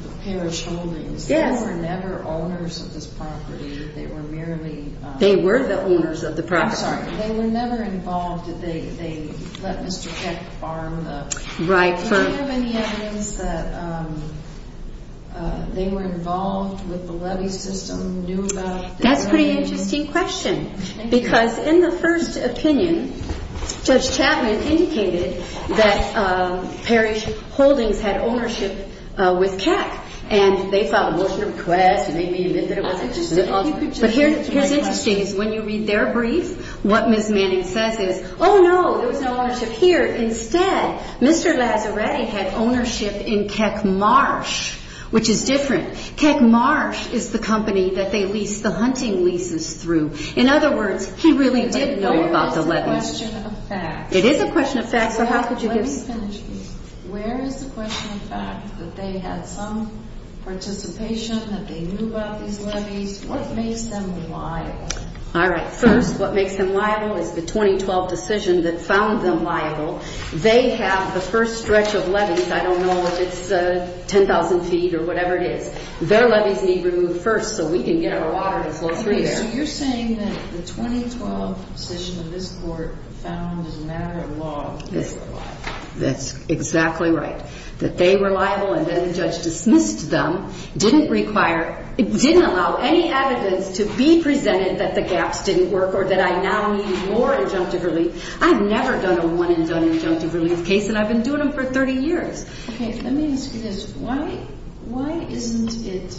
the Parish Holdings, they were never owners of this property. They were merely… They were the owners of the property. I'm sorry. They were never involved. They let Mr. Peck arm the… Right. Do you have any evidence that they were involved with the levy system, knew about it? That's a pretty interesting question. Because in the first opinion, Judge Chapman indicated that Parish Holdings had ownership with Keck, and they filed a motion to request and made me admit that it was. But here's interesting. When you read their brief, what Ms. Manning says is, oh, no, there was no ownership here. Instead, Mr. Lazzaretti had ownership in Keck Marsh, which is different. Keck Marsh is the company that they leased the hunting leases through. In other words, he really did know about the levies. But where is the question of fact? It is a question of fact. So how could you give… Let me finish this. Where is the question of fact that they had some participation, that they knew about these levies? What makes them liable? All right. First, what makes them liable is the 2012 decision that found them liable. They have the first stretch of levies. I don't know if it's 10,000 feet or whatever it is. Their levies need to be removed first so we can get our water to flow through there. Okay. So you're saying that the 2012 decision of this Court found as a matter of law that they were liable. That's exactly right, that they were liable and then the judge dismissed them. It didn't allow any evidence to be presented that the gaps didn't work or that I now need more injunctive relief. I've never done a one and done injunctive relief case, and I've been doing them for 30 years. Okay. Let me ask you this. Why isn't it…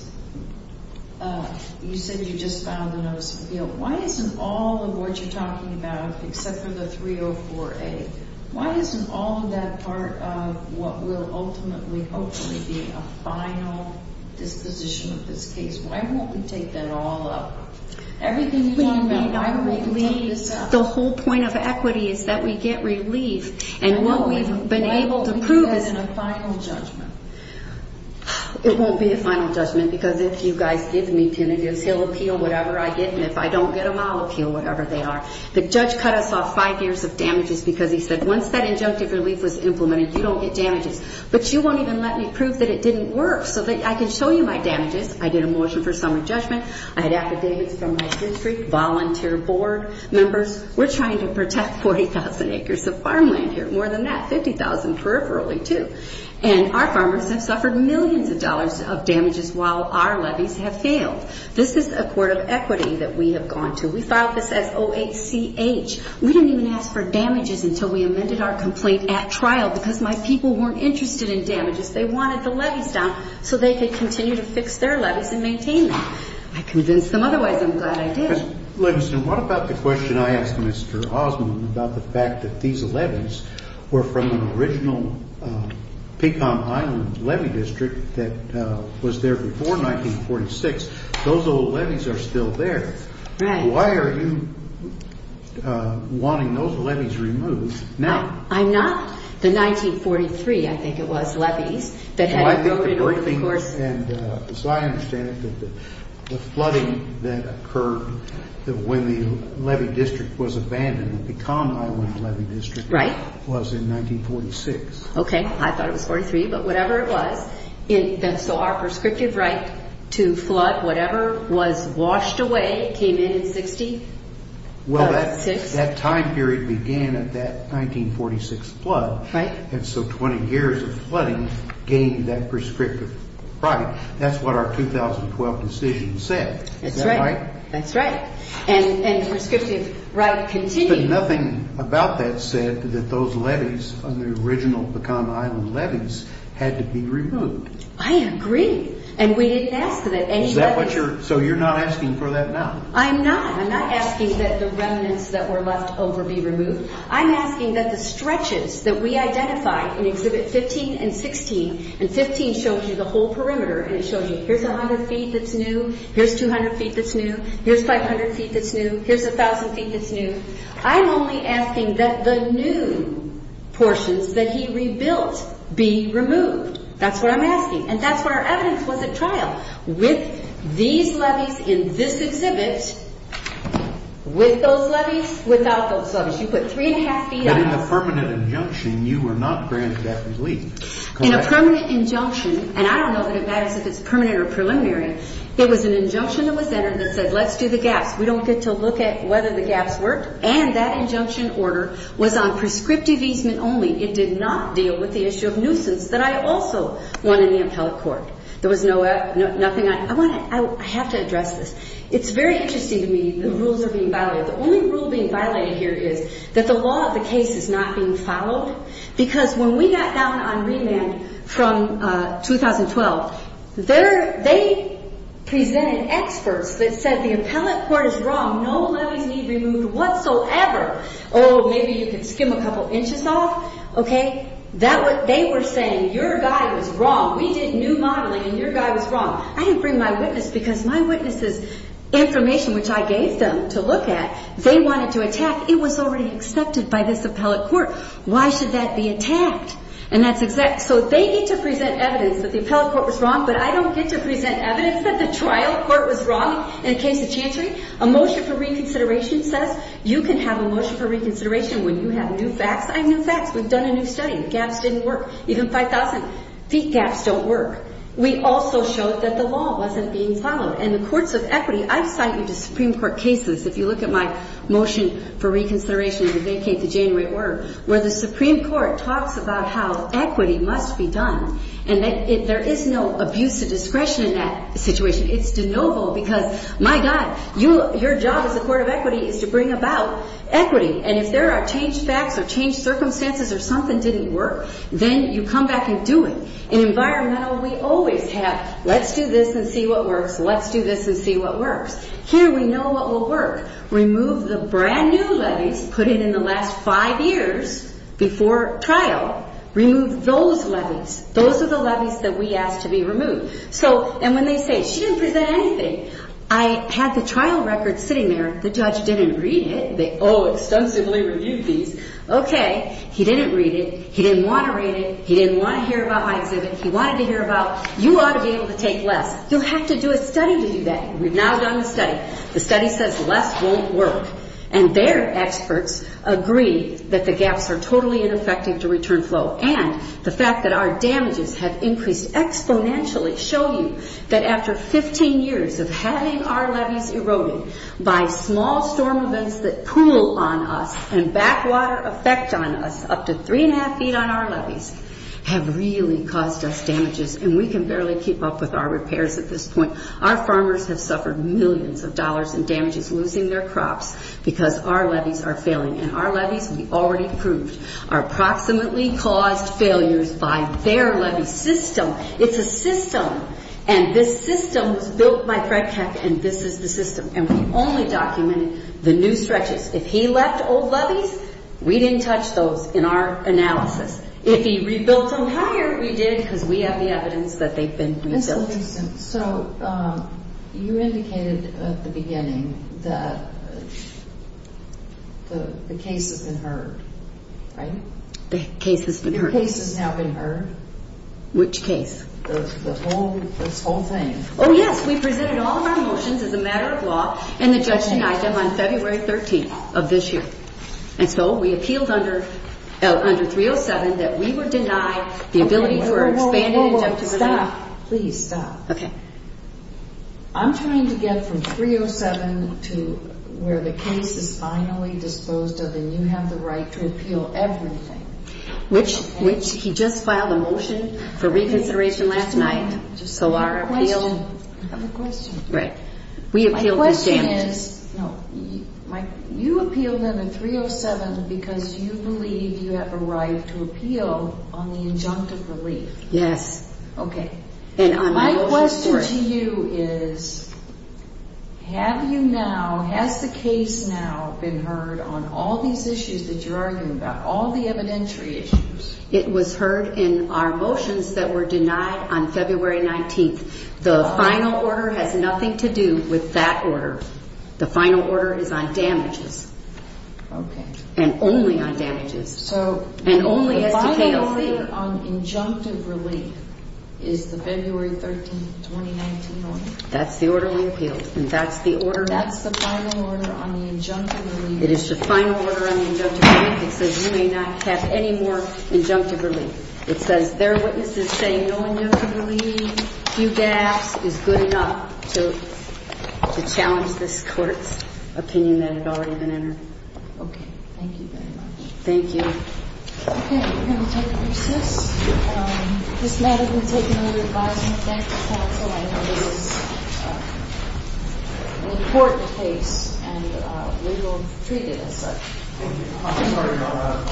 You said you just filed a notice of appeal. Why isn't all of what you're talking about, except for the 304A, why isn't all of that part of what will ultimately, hopefully, be a final disposition of this case? Why won't we take that all up? Everything you're talking about, why won't you take this up? The whole point of equity is that we get relief. And what we've been able to prove is… Why won't we do that in a final judgment? It won't be a final judgment because if you guys give me tinnitus, he'll appeal whatever I get, and if I don't get them, I'll appeal whatever they are. The judge cut us off five years of damages because he said, once that injunctive relief was implemented, you don't get damages. But you won't even let me prove that it didn't work so that I can show you my damages. I did a motion for summer judgment. I had affidavits from my district volunteer board members. We're trying to protect 40,000 acres of farmland here. More than that, 50,000 peripherally, too. And our farmers have suffered millions of dollars of damages while our levies have failed. This is a court of equity that we have gone to. We filed this as O-H-C-H. We didn't even ask for damages until we amended our complaint at trial because my people weren't interested in damages. They wanted the levies down so they could continue to fix their levies and maintain them. I convinced them otherwise. I'm glad I did. Leveson, what about the question I asked Mr. Osmond about the fact that these levies were from an original Pecan Island levy district that was there before 1946? Those old levies are still there. Right. Why are you wanting those levies removed now? I'm not. The 1943, I think it was, levies that had grown in order, of course. As I understand it, the flooding that occurred when the levy district was abandoned, the Pecan Island levy district, was in 1946. Okay, I thought it was 43, but whatever it was, so our prescriptive right to flood, whatever, was washed away, came in in 1966? Well, that time period began at that 1946 flood. Right. And so 20 years of flooding gained that prescriptive right. That's what our 2012 decision said. That's right. Is that right? That's right. And the prescriptive right continued. But nothing about that said that those levies, on the original Pecan Island levies, had to be removed. I agree. And we didn't ask for that. So you're not asking for that now? I'm not. I'm not asking that the remnants that were left over be removed. I'm asking that the stretches that we identified in Exhibit 15 and 16, and 15 shows you the whole perimeter, and it shows you, here's 100 feet that's new, here's 200 feet that's new, here's 500 feet that's new, here's 1,000 feet that's new. I'm only asking that the new portions that he rebuilt be removed. That's what I'm asking. And that's what our evidence was at trial, with these levies in this exhibit, with those levies, without those levies. You put three and a half feet up. But in the permanent injunction, you were not granted that relief. In a permanent injunction, and I don't know that it matters if it's permanent or preliminary, it was an injunction that was entered that said, let's do the gaps. We don't get to look at whether the gaps worked. And that injunction order was on prescriptive easement only. It did not deal with the issue of nuisance that I also want in the appellate court. There was nothing I want to – I have to address this. It's very interesting to me the rules are being violated. The only rule being violated here is that the law of the case is not being followed, because when we got down on remand from 2012, they presented experts that said the appellate court is wrong. No levies need to be removed whatsoever. Oh, maybe you can skim a couple inches off. Okay? They were saying your guy was wrong. We did new modeling, and your guy was wrong. I didn't bring my witness, because my witness's information, which I gave them to look at, they wanted to attack. It was already accepted by this appellate court. Why should that be attacked? So they need to present evidence that the appellate court was wrong, but I don't get to present evidence that the trial court was wrong in the case of Chantry. A motion for reconsideration says you can have a motion for reconsideration when you have new facts. I have new facts. We've done a new study. The gaps didn't work. Even 5,000-feet gaps don't work. We also showed that the law wasn't being followed. And the courts of equity, I cite you to Supreme Court cases, if you look at my motion for reconsideration to vacate the January order, where the Supreme Court talks about how equity must be done, and there is no abuse of discretion in that situation. It's de novo, because, my God, your job as a court of equity is to bring about equity. And if there are changed facts or changed circumstances or something didn't work, then you come back and do it. In environmental, we always have let's do this and see what works, let's do this and see what works. Here we know what will work. Remove the brand-new levies put in in the last five years before trial. Remove those levies. Those are the levies that we ask to be removed. And when they say, she didn't present anything, I had the trial record sitting there. The judge didn't read it. They all extensively reviewed these. Okay, he didn't read it. He didn't want to read it. He didn't want to hear about my exhibit. He wanted to hear about, you ought to be able to take less. You'll have to do a study to do that. We've now done the study. The study says less won't work. And their experts agree that the gaps are totally ineffective to return flow. And the fact that our damages have increased exponentially show you that after 15 years of having our levies eroded by small storm events that pool on us and backwater effect on us up to three-and-a-half feet on our levies have really caused us damages. And we can barely keep up with our repairs at this point. Our farmers have suffered millions of dollars in damages losing their crops because our levies are failing. And our levies, we already proved, are approximately caused failures by their levy system. It's a system. And this system was built by Fred Keck, and this is the system. And we only documented the new stretches. If he left old levies, we didn't touch those in our analysis. If he rebuilt them higher, we did because we have the evidence that they've been rebuilt. So you indicated at the beginning that the case has been heard, right? The case has been heard. The case has now been heard. Which case? This whole thing. Oh, yes. We presented all of our motions as a matter of law in the Judgment Item on February 13th of this year. And so we appealed under 307 that we would deny the ability for an expanded injunctive review. Stop. Please stop. Okay. I'm trying to get from 307 to where the case is finally disposed of and you have the right to appeal everything. Which he just filed a motion for reconsideration last night. So our appeal. I have a question. Right. My question is, you appealed under 307 because you believe you have a right to appeal on the injunctive relief. Yes. Okay. My question to you is, have you now, has the case now been heard on all these issues that you're arguing about, all the evidentiary issues? It was heard in our motions that were denied on February 19th. The final order has nothing to do with that order. The final order is on damages. Okay. And only on damages. So the final order on injunctive relief. Is the February 13th, 2019 order. That's the order we appealed. And that's the order. That's the final order on the injunctive relief. It is the final order on the injunctive relief. It says you may not have any more injunctive relief. It says there are witnesses saying no injunctive relief, few gaps is good enough to challenge this court's opinion that had already been entered. Okay. Thank you very much. Thank you. Okay. We're going to take a recess. This matter has been taken under advisement. Thank you, counsel. I know this is an important case and we will treat it as such. Thank you. Thank you.